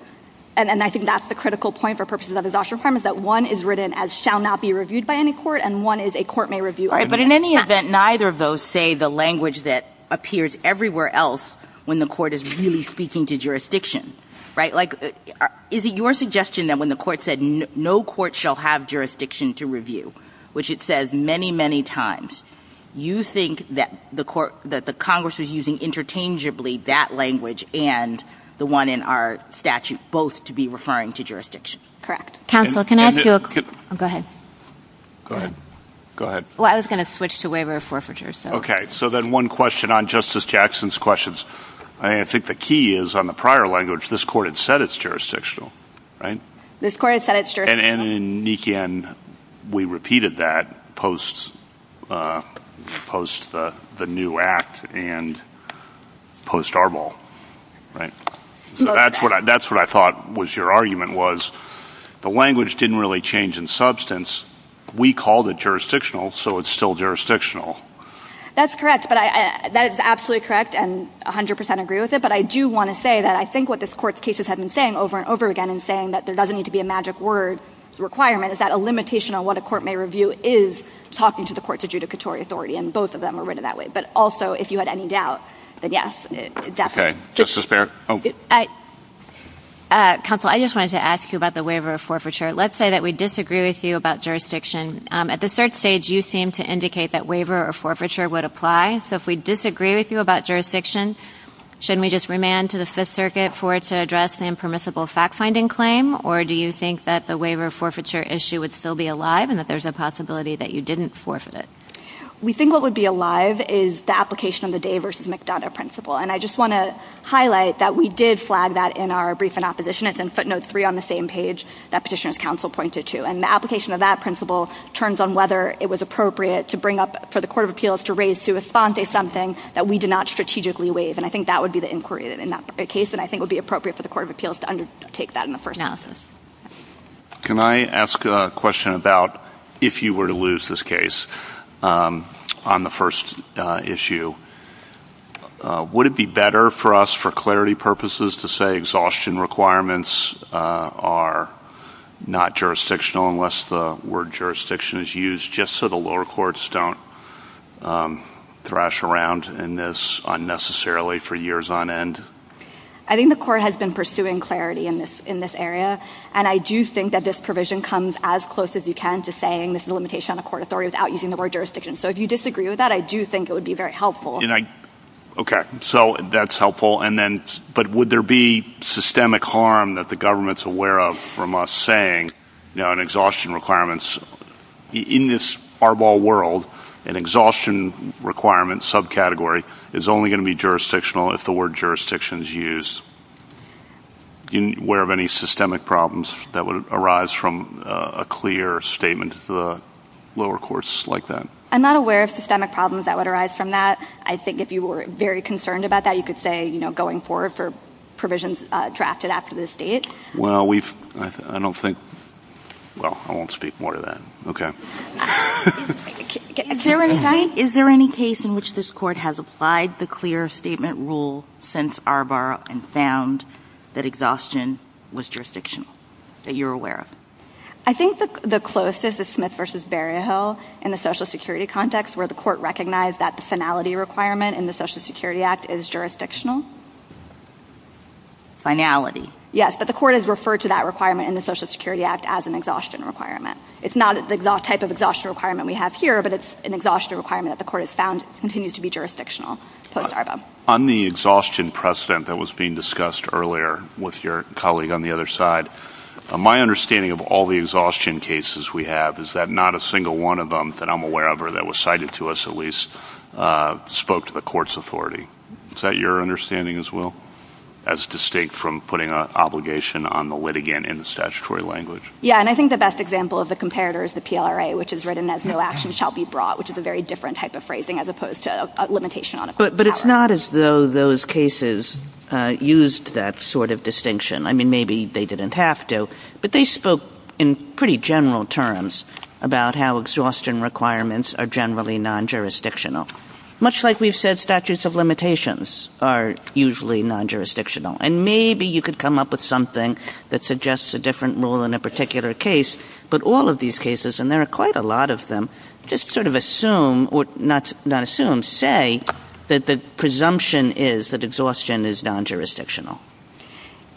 and I think that's the critical point for purposes of exhaustion is that one is written as shall not be reviewed by any court and one is a court may review only if. But in any event, neither of those say the language that appears everywhere else when the court is really speaking to jurisdiction, right? Like, is it your suggestion that when the court said no court shall have jurisdiction to review, which it says many, many times, you think that the court that the Congress was using interchangeably that language and the one in our statute, both to be referring to jurisdiction? Correct. Counsel, can I ask you? Go ahead. Go ahead. Go ahead. Well, I was going to switch to waiver of forfeiture. Okay. So then one question on Justice Jackson's questions. I think the key is on the prior language. This court had said it's jurisdictional, right? This court has said it's jurisdictional. And in Nikian, we repeated that post the new act and post Arbol, right? So that's what I thought was your argument was the language didn't really change in substance. We called it jurisdictional, so it's still jurisdictional. That's correct. But that is absolutely correct and 100% agree with it. But I do want to say that I think what this court's cases have been saying over and over again and saying that there doesn't need to be a magic word requirement is that a limitation on what a court may review is talking to the court to judicatory authority. And both of them are written that way. But also, if you had any doubt, then yes, definitely. Okay. Justice Barrett. Counsel, I just wanted to ask you about the waiver of forfeiture. Let's say that we disagree with you about jurisdiction. At the cert stage, you seem to indicate that waiver of forfeiture would apply. So if we disagree with you about jurisdiction, shouldn't we just remand to the permissible fact-finding claim, or do you think that the waiver of forfeiture issue would still be alive and that there's a possibility that you didn't forfeit it? We think what would be alive is the application of the Day v. McDonough principle. And I just want to highlight that we did flag that in our brief in opposition. It's in footnote 3 on the same page that Petitioner's Counsel pointed to. And the application of that principle turns on whether it was appropriate to bring up for the Court of Appeals to raise to esponte something that we did not strategically waive. And I think that would be the inquiry in that case and I think would be the Court of Appeals to undertake that in the first analysis. Can I ask a question about if you were to lose this case on the first issue, would it be better for us for clarity purposes to say exhaustion requirements are not jurisdictional unless the word jurisdiction is used just so the lower courts don't thrash around in this unnecessarily for years on end? I think the Court has been pursuing clarity in this area and I do think that this provision comes as close as you can to saying this is a limitation on a court authority without using the word jurisdiction. So if you disagree with that, I do think it would be very helpful. Okay. So that's helpful. But would there be systemic harm that the government is aware of from us saying, you know, in exhaustion requirements, in this Arbol world, an exhaustion requirement subcategory is only going to be jurisdictional if the word jurisdiction is used? Are you aware of any systemic problems that would arise from a clear statement to the lower courts like that? I'm not aware of systemic problems that would arise from that. I think if you were very concerned about that, you could say, you know, going forward for provisions drafted after this date. Well, I don't think – well, I won't speak more to that. Okay. Is there any case in which this court has applied the clear statement rule since Arbol and found that exhaustion was jurisdictional, that you're aware of? I think the closest is Smith v. Berryhill in the Social Security context, where the court recognized that the finality requirement in the Social Security Act is jurisdictional. Finality. Yes, but the court has referred to that requirement in the Social Security Act as an exhaustion requirement. It's not the type of exhaustion requirement we have here, but it's an exhaustion requirement that the court has found continues to be jurisdictional post-Arbol. On the exhaustion precedent that was being discussed earlier with your colleague on the other side, my understanding of all the exhaustion cases we have is that not a single one of them that I'm aware of or that was cited to us at least spoke to the court's authority. Is that your understanding as well, as distinct from putting an obligation on the litigant in the statutory language? Yeah, and I think the best example of the comparator is the PLRA, which is written as no action shall be brought, which is a very different type of phrasing as opposed to a limitation on a jurisdiction. It's not as though those cases used that sort of distinction. I mean, maybe they didn't have to, but they spoke in pretty general terms about how exhaustion requirements are generally non-jurisdictional, much like we've said statutes of limitations are usually non-jurisdictional. And maybe you could come up with something that suggests a different rule in a particular case, but all of these cases, and there are quite a lot of them, just sort of assume, say that the presumption is that exhaustion is non-jurisdictional.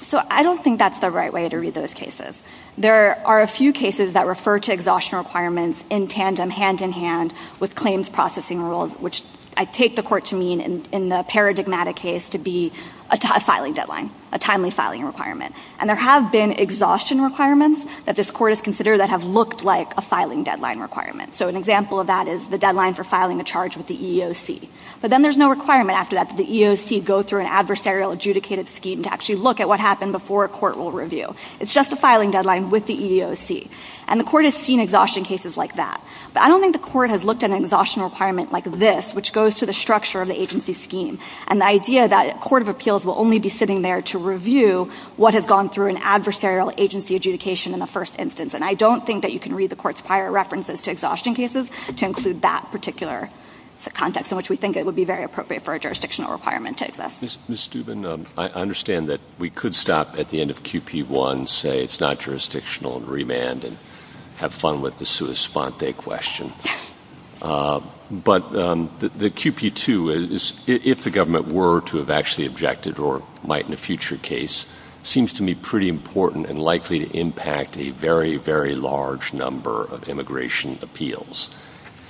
So I don't think that's the right way to read those cases. There are a few cases that refer to exhaustion requirements in tandem, hand in hand, with claims processing rules, which I take the court to mean in the paradigmatic case to be a filing deadline, a timely filing requirement. And there have been exhaustion requirements that this court has considered that have looked like a filing deadline requirement. So an example of that is the deadline for filing a charge with the EEOC. But then there's no requirement after that that the EEOC go through an adversarial adjudicative scheme to actually look at what happened before a court will review. It's just a filing deadline with the EEOC. And the court has seen exhaustion cases like that. But I don't think the court has looked at an exhaustion requirement like this, which goes to the structure of the agency scheme, and the idea that a court of appeals will only be sitting there to review what has gone through an adversarial agency adjudication in the first instance. And I don't think that you can read the court's prior references to exhaustion cases to include that particular context in which we think it would be very appropriate for a jurisdictional requirement to exist. Ms. Steuben, I understand that we could stop at the end of QP1, say it's not jurisdictional, and remand, and have fun with the sua sponte question. But the QP2, if the government were to have actually objected or might in a future case, seems to me pretty important and likely to impact a very, very large number of immigration appeals.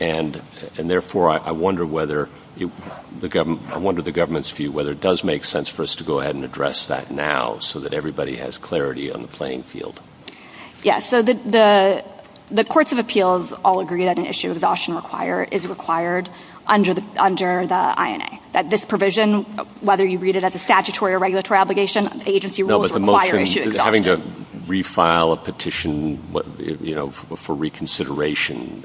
And therefore, I wonder whether the government's view, whether it does make sense for us to go ahead and address that now so that everybody has clarity on the playing field. Yes. So the courts of appeals all agree that an issue of exhaustion is required under the INA. That this provision, whether you read it as a statutory or regulatory obligation, agency rules require issue exhaustion. Having to refile a petition for reconsideration,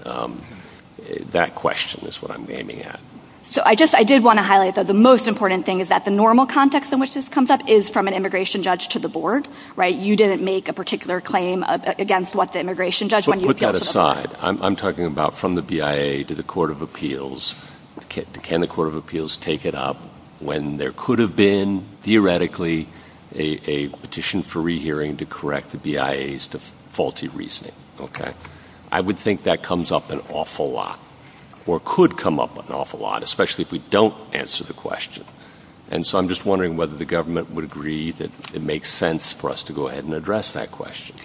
that question is what I'm aiming at. So I did want to highlight, though, the most important thing is that the normal context in which this comes up is from an immigration judge to the board. You didn't make a particular claim against what the immigration judge when you appealed to the board. But put that aside. I'm talking about from the BIA to the court of appeals. Can the court of appeals take it up when there could have been, theoretically, a petition for rehearing to correct the BIA's faulty reasoning? Okay? I would think that comes up an awful lot, or could come up an awful lot, especially if we don't answer the question. And so I'm just wondering whether the government would agree that it makes sense for us to go ahead and address that question.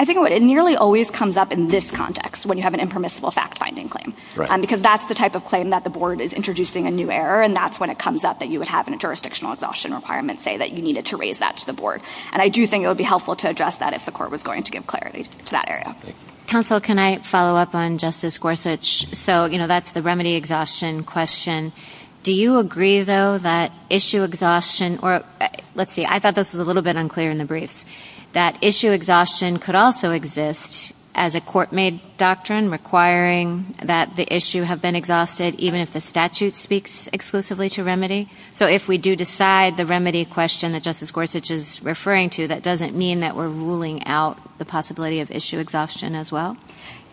I think it nearly always comes up in this context, when you have an impermissible fact-finding claim. Right. Because that's the type of claim that the board is introducing a new error, and that's when it comes up that you would have a jurisdictional exhaustion requirement, say, that you needed to raise that to the board. And I do think it would be helpful to address that if the court was going to give clarity to that area. Counsel, can I follow up on Justice Gorsuch? So, you know, that's the remedy exhaustion question. Do you agree, though, that issue exhaustion, or let's see, I thought this was a little bit unclear in the briefs, that issue exhaustion could also exist as a court-made doctrine requiring that the issue have been exhausted even if the statute speaks exclusively to remedy? So if we do decide the remedy question that Justice Gorsuch is referring to, that doesn't mean that we're ruling out the possibility of issue exhaustion as well?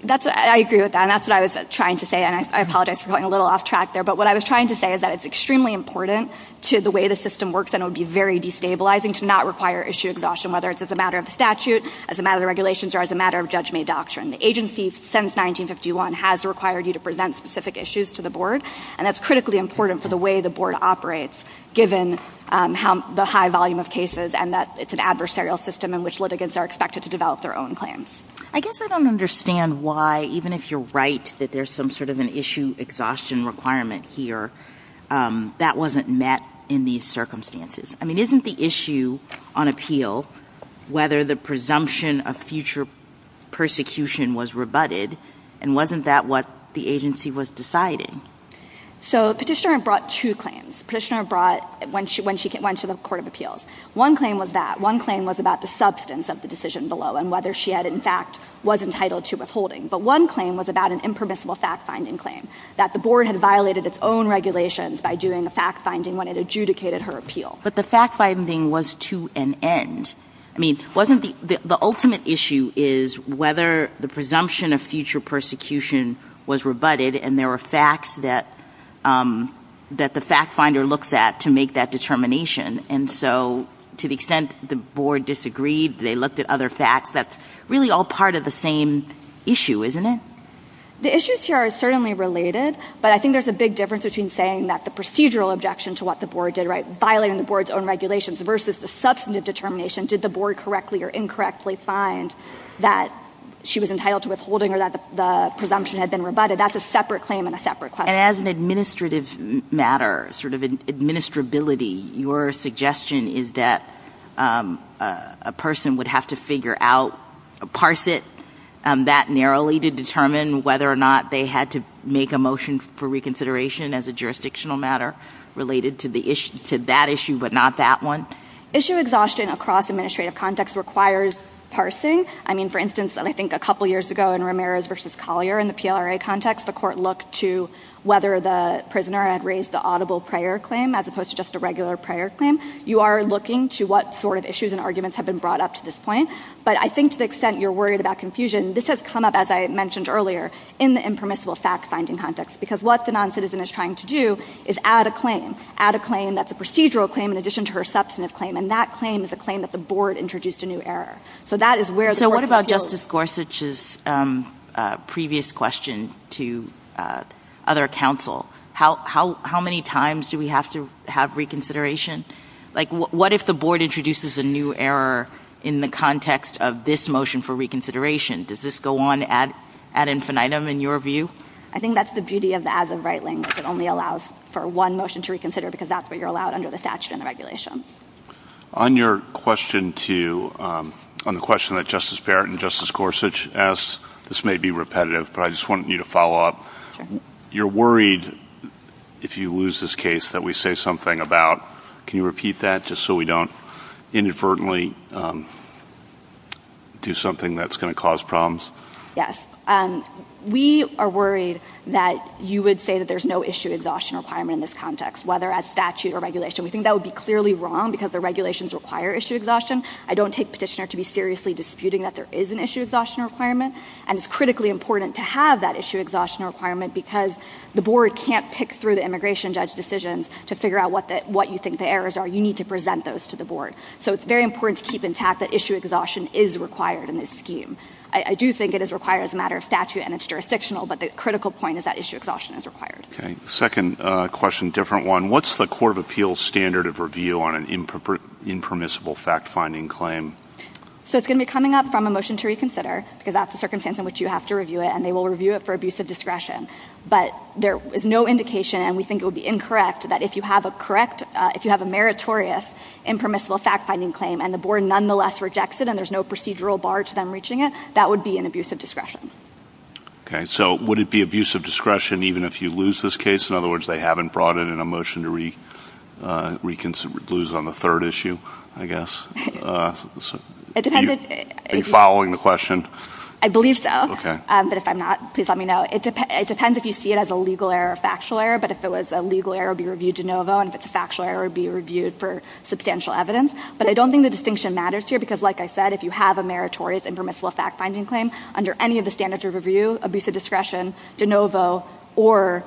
I agree with that, and that's what I was trying to say, and I apologize for going a little off track there. But what I was trying to say is that it's extremely important to the way the system works, and it would be very destabilizing to not require issue exhaustion, whether it's as a matter of statute, as a matter of regulations, or as a matter of judge-made doctrine. The agency, since 1951, has required you to present specific issues to the board, and that's critically important for the way the board operates, given the high volume of cases and that it's an adversarial system in which litigants are expected to develop their own claims. I guess I don't understand why, even if you're right that there's some sort of an issue exhaustion requirement here, that wasn't met in these circumstances. I mean, isn't the issue on appeal whether the presumption of future persecution was rebutted, and wasn't that what the agency was deciding? So Petitioner brought two claims. Petitioner brought when she went to the Court of Appeals. One claim was that. One claim was about the substance of the decision below and whether she had, in fact, was entitled to withholding. But one claim was about an impermissible fact-finding claim, that the board had violated its own regulations by doing a fact-finding when it adjudicated her appeal. But the fact-finding was to an end. I mean, wasn't the ultimate issue is whether the presumption of future persecution was rebutted, and there were facts that the fact-finder looks at to make that determination. And so to the extent the board disagreed, they looked at other facts, that's really all part of the same issue, isn't it? The issues here are certainly related, but I think there's a big difference between saying that the procedural objection to what the board did, right, violating the board's own regulations, versus the substantive determination, did the board correctly or incorrectly find that she was entitled to withholding or that the presumption had been rebutted. That's a separate claim and a separate question. And as an administrative matter, sort of an administrability, your suggestion is that a person would have to figure out, parse it that narrowly to determine whether or not they had to make a motion for reconsideration as a jurisdictional matter related to that issue but not that one? Issue exhaustion across administrative context requires parsing. I mean, for instance, I think a couple years ago in Ramirez v. Collier in the PLRA context, the court looked to whether the prisoner had raised the audible prior claim as opposed to just a regular prior claim. You are looking to what sort of issues and arguments have been brought up to this point, but I think to the extent you're worried about confusion, this has come up, as I mentioned earlier, in the impermissible fact-finding context. Because what the noncitizen is trying to do is add a claim, add a claim that's a procedural claim in addition to her substantive claim, and that claim is a claim that the board introduced a new error. So that is where the court's appeal is. So what about Justice Gorsuch's previous question to other counsel? How many times do we have to have reconsideration? Like, what if the board introduces a new error in the context of this motion for reconsideration? Does this go on ad infinitum in your view? I think that's the beauty of the as of right language. It only allows for one motion to reconsider because that's what you're allowed under the statute and the regulations. On the question that Justice Barrett and Justice Gorsuch asked, this may be repetitive, but I just wanted you to follow up. Sure. You're worried if you lose this case that we say something about, can you repeat that just so we don't inadvertently do something that's going to cause problems? Yes. We are worried that you would say that there's no issue exhaustion requirement in this context, whether as statute or regulation. We think that would be clearly wrong because the regulations require issue exhaustion. I don't take petitioner to be seriously disputing that there is an issue exhaustion requirement. And it's critically important to have that issue exhaustion requirement because the board can't pick through the immigration judge decisions to figure out what you think the errors are. You need to present those to the board. So it's very important to keep intact that issue exhaustion is required in this scheme. I do think it is required as a matter of statute and it's jurisdictional, but the critical point is that issue exhaustion is required. Okay. Second question, different one. What's the Court of Appeals standard of review on an impermissible fact-finding claim? So it's going to be coming up from a motion to reconsider because that's the circumstance in which you have to review it, and they will review it for abuse of discretion. But there is no indication, and we think it would be incorrect, that if you have a meritorious impermissible fact-finding claim and the board nonetheless rejects it and there's no procedural bar to them reaching it, that would be an abuse of discretion. Okay. So would it be abuse of discretion even if you lose this case? In other words, they haven't brought it in a motion to lose on the third issue, I guess. It depends. Are you following the question? I believe so. Okay. But if I'm not, please let me know. It depends if you see it as a legal error or a factual error, but if it was a legal error, it would be reviewed de novo, and if it's a factual error, it would be reviewed for substantial evidence. But I don't think the distinction matters here because, like I said, if you have a meritorious impermissible fact-finding claim under any of the standards of review, abuse of discretion, de novo, or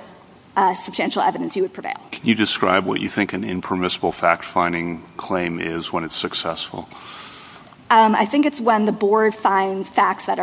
substantial evidence, you would prevail. Can you describe what you think an impermissible fact-finding claim is when it's successful? I think it's when the board finds facts that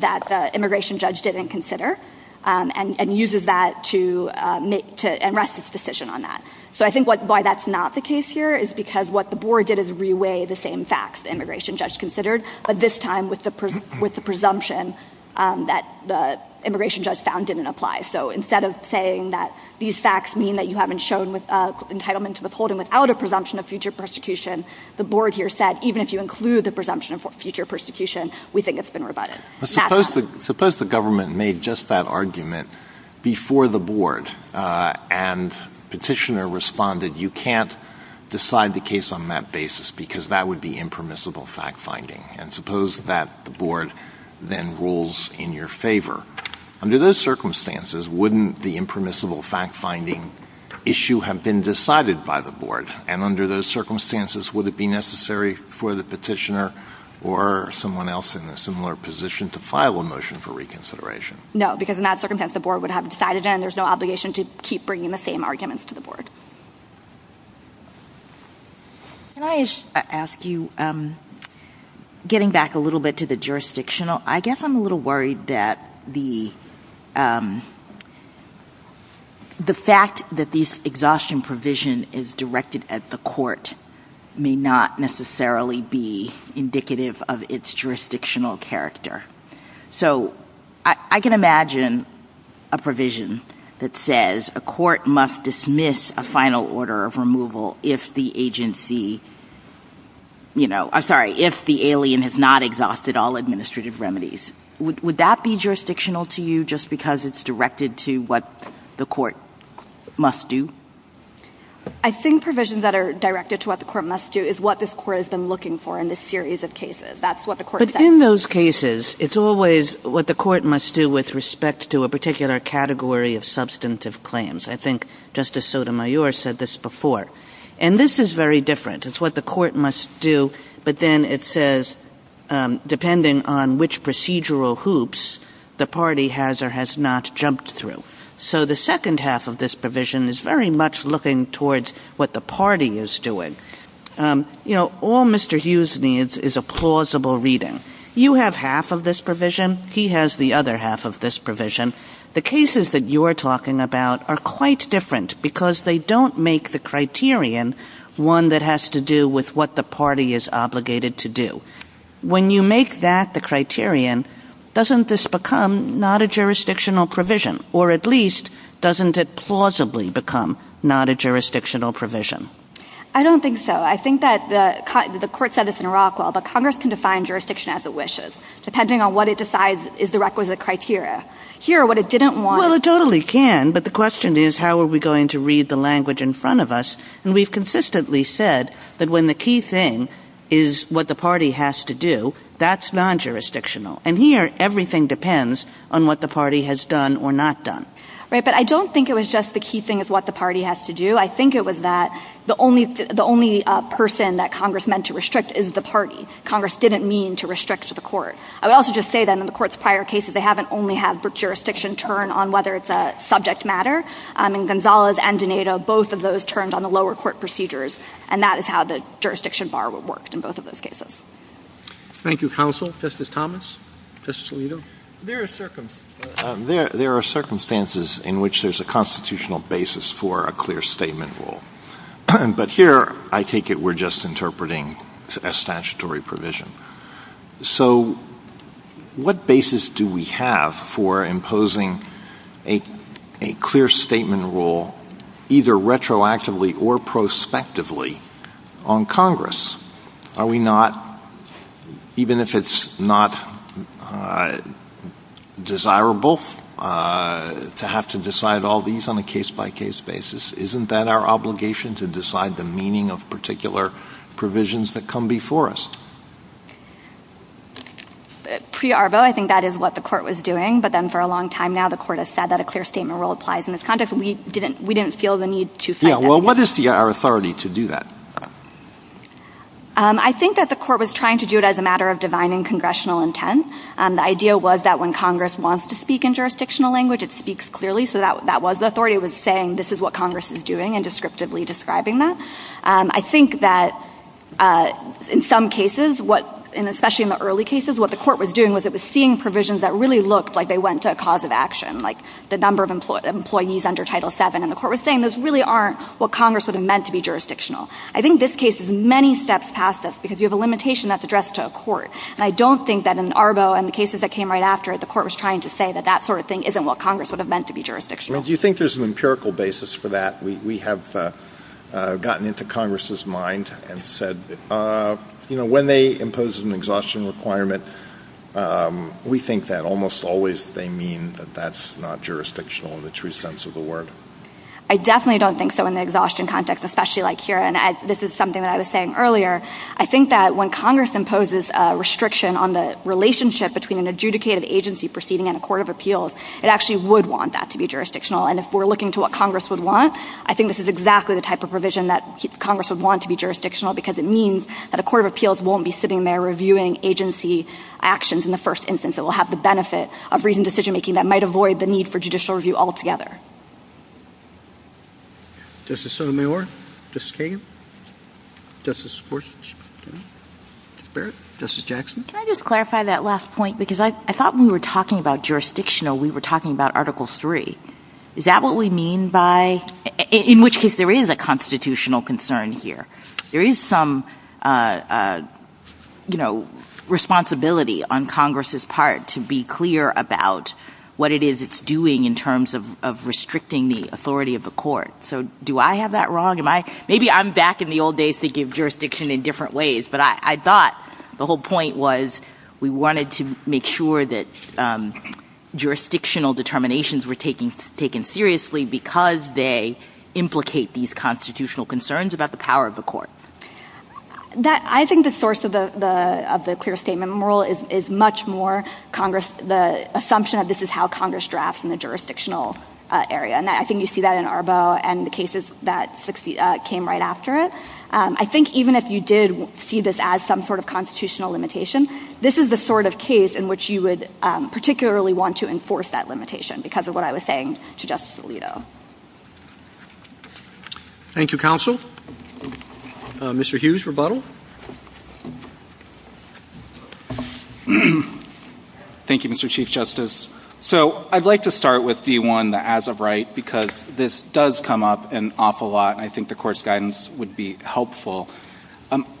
the immigration judge didn't consider and uses that to unrest its decision on that. So I think why that's not the case here is because what the board did is reweigh the same facts the immigration judge considered, but this time with the presumption that the immigration judge found didn't apply. So instead of saying that these facts mean that you haven't shown entitlement to withholding without a presumption of future persecution, the board here said even if you include the presumption of future persecution, we think it's been rebutted. Suppose the government made just that argument before the board and the petitioner responded, you can't decide the case on that basis because that would be impermissible fact-finding. And suppose that the board then rules in your favor. Under those circumstances, wouldn't the impermissible fact-finding issue have been decided by the board? And under those circumstances, would it be necessary for the petitioner or someone else in a similar position to file a motion for reconsideration? No, because in that circumstance the board would have decided it and there's no obligation to keep bringing the same arguments to the board. Can I ask you, getting back a little bit to the jurisdictional, I guess I'm a little worried that the fact that this exhaustion provision is directed at the court may not necessarily be indicative of its jurisdictional character. So I can imagine a provision that says a court must dismiss a final order of removal if the agency, you know, I'm sorry, if the alien has not exhausted all administrative remedies. Would that be jurisdictional to you just because it's directed to what the court must do? I think provisions that are directed to what the court must do is what this court has been looking for in this series of cases. That's what the court says. But in those cases, it's always what the court must do with respect to a particular category of substantive claims. I think Justice Sotomayor said this before. And this is very different. It's what the court must do, but then it says depending on which procedural hoops the party has or has not jumped through. So the second half of this provision is very much looking towards what the party is doing. You know, all Mr. Hughes needs is a plausible reading. You have half of this provision. He has the other half of this provision. The cases that you are talking about are quite different because they don't make the criterion one that has to do with what the party is obligated to do. When you make that the criterion, doesn't this become not a jurisdictional provision? Or at least, doesn't it plausibly become not a jurisdictional provision? I don't think so. I think that the court said this in Rockwell, but Congress can define jurisdiction as it wishes, depending on what it decides is the requisite criteria. Here, what it didn't want is... Well, it totally can. But the question is, how are we going to read the language in front of us? And we've consistently said that when the key thing is what the party has to do, that's non-jurisdictional. And here, everything depends on what the party has done or not done. Right. But I don't think it was just the key thing is what the party has to do. I think it was that the only person that Congress meant to restrict is the party. Congress didn't mean to restrict the court. I would also just say, then, in the Court's prior cases, they haven't only had jurisdiction turn on whether it's a subject matter. In Gonzalez and Donato, both of those turned on the lower court procedures, and that is how the jurisdiction bar worked in both of those cases. Thank you, counsel. Justice Thomas? Justice Alito? There are circumstances in which there's a constitutional basis for a clear statement rule. But here, I take it we're just interpreting a statutory provision. So what basis do we have for imposing a clear statement rule either retroactively or prospectively on Congress? Are we not, even if it's not desirable to have to decide all these on a case-by-case basis, isn't that our obligation to decide the meaning of particular provisions that come before us? Pre-Arbo, I think that is what the Court was doing. But then for a long time now, the Court has said that a clear statement rule applies in this context. We didn't feel the need to fight that. Well, what is our authority to do that? I think that the Court was trying to do it as a matter of divine and congressional intent. The idea was that when Congress wants to speak in jurisdictional language, it speaks clearly. So that was the authority. Everybody was saying this is what Congress is doing and descriptively describing that. I think that in some cases, especially in the early cases, what the Court was doing was it was seeing provisions that really looked like they went to a cause of action, like the number of employees under Title VII. And the Court was saying those really aren't what Congress would have meant to be jurisdictional. I think this case is many steps past this because you have a limitation that's addressed to a court. And I don't think that in Arbo and the cases that came right after it, the Court was trying to say that that sort of thing isn't what Congress would have meant to be jurisdictional. Do you think there's an empirical basis for that? We have gotten into Congress's mind and said, you know, when they impose an exhaustion requirement, we think that almost always they mean that that's not jurisdictional in the true sense of the word. I definitely don't think so in the exhaustion context, especially like here. And this is something that I was saying earlier. I think that when Congress imposes a restriction on the relationship between an adjudicated agency proceeding and a court of appeals, it actually would want that to be jurisdictional. And if we're looking to what Congress would want, I think this is exactly the type of provision that Congress would want to be jurisdictional because it means that a court of appeals won't be sitting there reviewing agency actions in the first instance. It will have the benefit of reasoned decision making that might avoid the need for judicial review altogether. Justice Sotomayor? Justice Kagan? Justice Gorsuch? Justice Barrett? Justice Jackson? Can I just clarify that last point? Because I thought when we were talking about jurisdictional, we were talking about Article III. Is that what we mean by – in which case there is a constitutional concern here. There is some, you know, responsibility on Congress's part to be clear about what it is it's doing in terms of restricting the authority of the court. So do I have that wrong? Maybe I'm back in the old days thinking of jurisdiction in different ways. But I thought the whole point was we wanted to make sure that jurisdictional determinations were taken seriously because they implicate these constitutional concerns about the power of the court. I think the source of the clear statement rule is much more the assumption that this is how Congress drafts in the jurisdictional area. And I think you see that in Arbo and the cases that came right after it. I think even if you did see this as some sort of constitutional limitation, this is the sort of case in which you would particularly want to enforce that limitation because of what I was saying to Justice Alito. Thank you, counsel. Mr. Hughes, rebuttal? Thank you, Mr. Chief Justice. So I'd like to start with D1, the as of right, because this does come up an awful lot and I think the court's guidance would be helpful.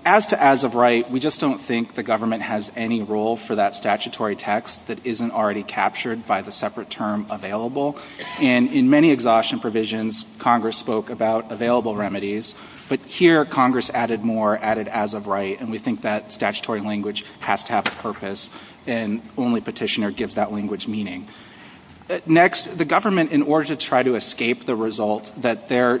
As to as of right, we just don't think the government has any role for that statutory text that isn't already captured by the separate term available. And in many exhaustion provisions, Congress spoke about available remedies. But here Congress added more, added as of right, and we think that statutory language has to have a purpose and only petitioner gives that language meaning. Next, the government, in order to try to escape the result that their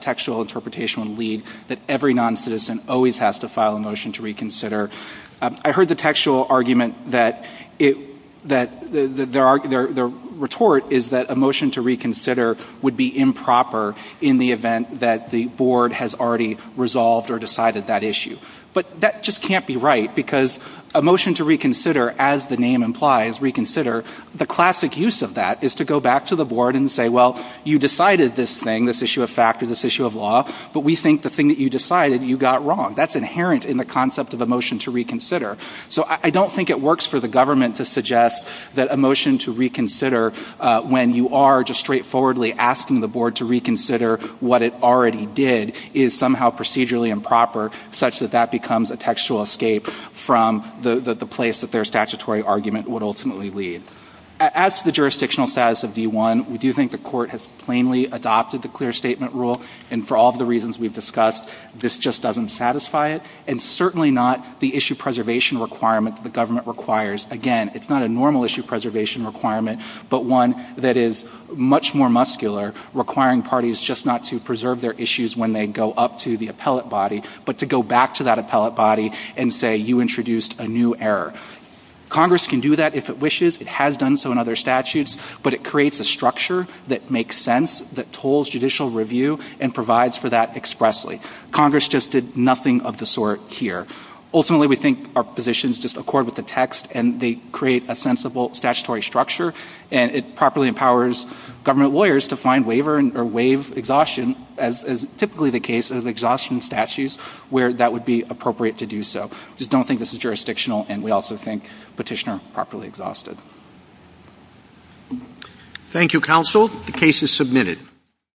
textual interpretation would lead, that every noncitizen always has to file a motion to reconsider, I heard the textual argument that their retort is that a motion to reconsider would be improper in the event that the board has already resolved or decided that issue. But that just can't be right because a motion to reconsider, as the name implies, reconsider, the classic use of that is to go back to the board and say, well, you decided this thing, this issue of fact or this issue of law, but we think the thing that you decided, you got wrong. That's inherent in the concept of a motion to reconsider. So I don't think it works for the government to suggest that a motion to reconsider when you are just straightforwardly asking the board to reconsider what it already did is somehow procedurally improper such that that their statutory argument would ultimately lead. As to the jurisdictional status of D-1, we do think the court has plainly adopted the clear statement rule, and for all of the reasons we've discussed, this just doesn't satisfy it, and certainly not the issue preservation requirement that the government requires. Again, it's not a normal issue preservation requirement, but one that is much more muscular, requiring parties just not to preserve their issues when they go up to the appellate body, but to go back to that appellate body and say, you introduced a new error. Congress can do that if it wishes. It has done so in other statutes, but it creates a structure that makes sense, that tolls judicial review, and provides for that expressly. Congress just did nothing of the sort here. Ultimately, we think our positions just accord with the text, and they create a sensible statutory structure, and it properly empowers government lawyers to find waiver or waive exhaustion, as is typically the case of exhaustion statutes, where that would be appropriate to do so. We just don't think this is jurisdictional, and we also think Petitioner properly exhausted. Thank you, counsel. The case is submitted.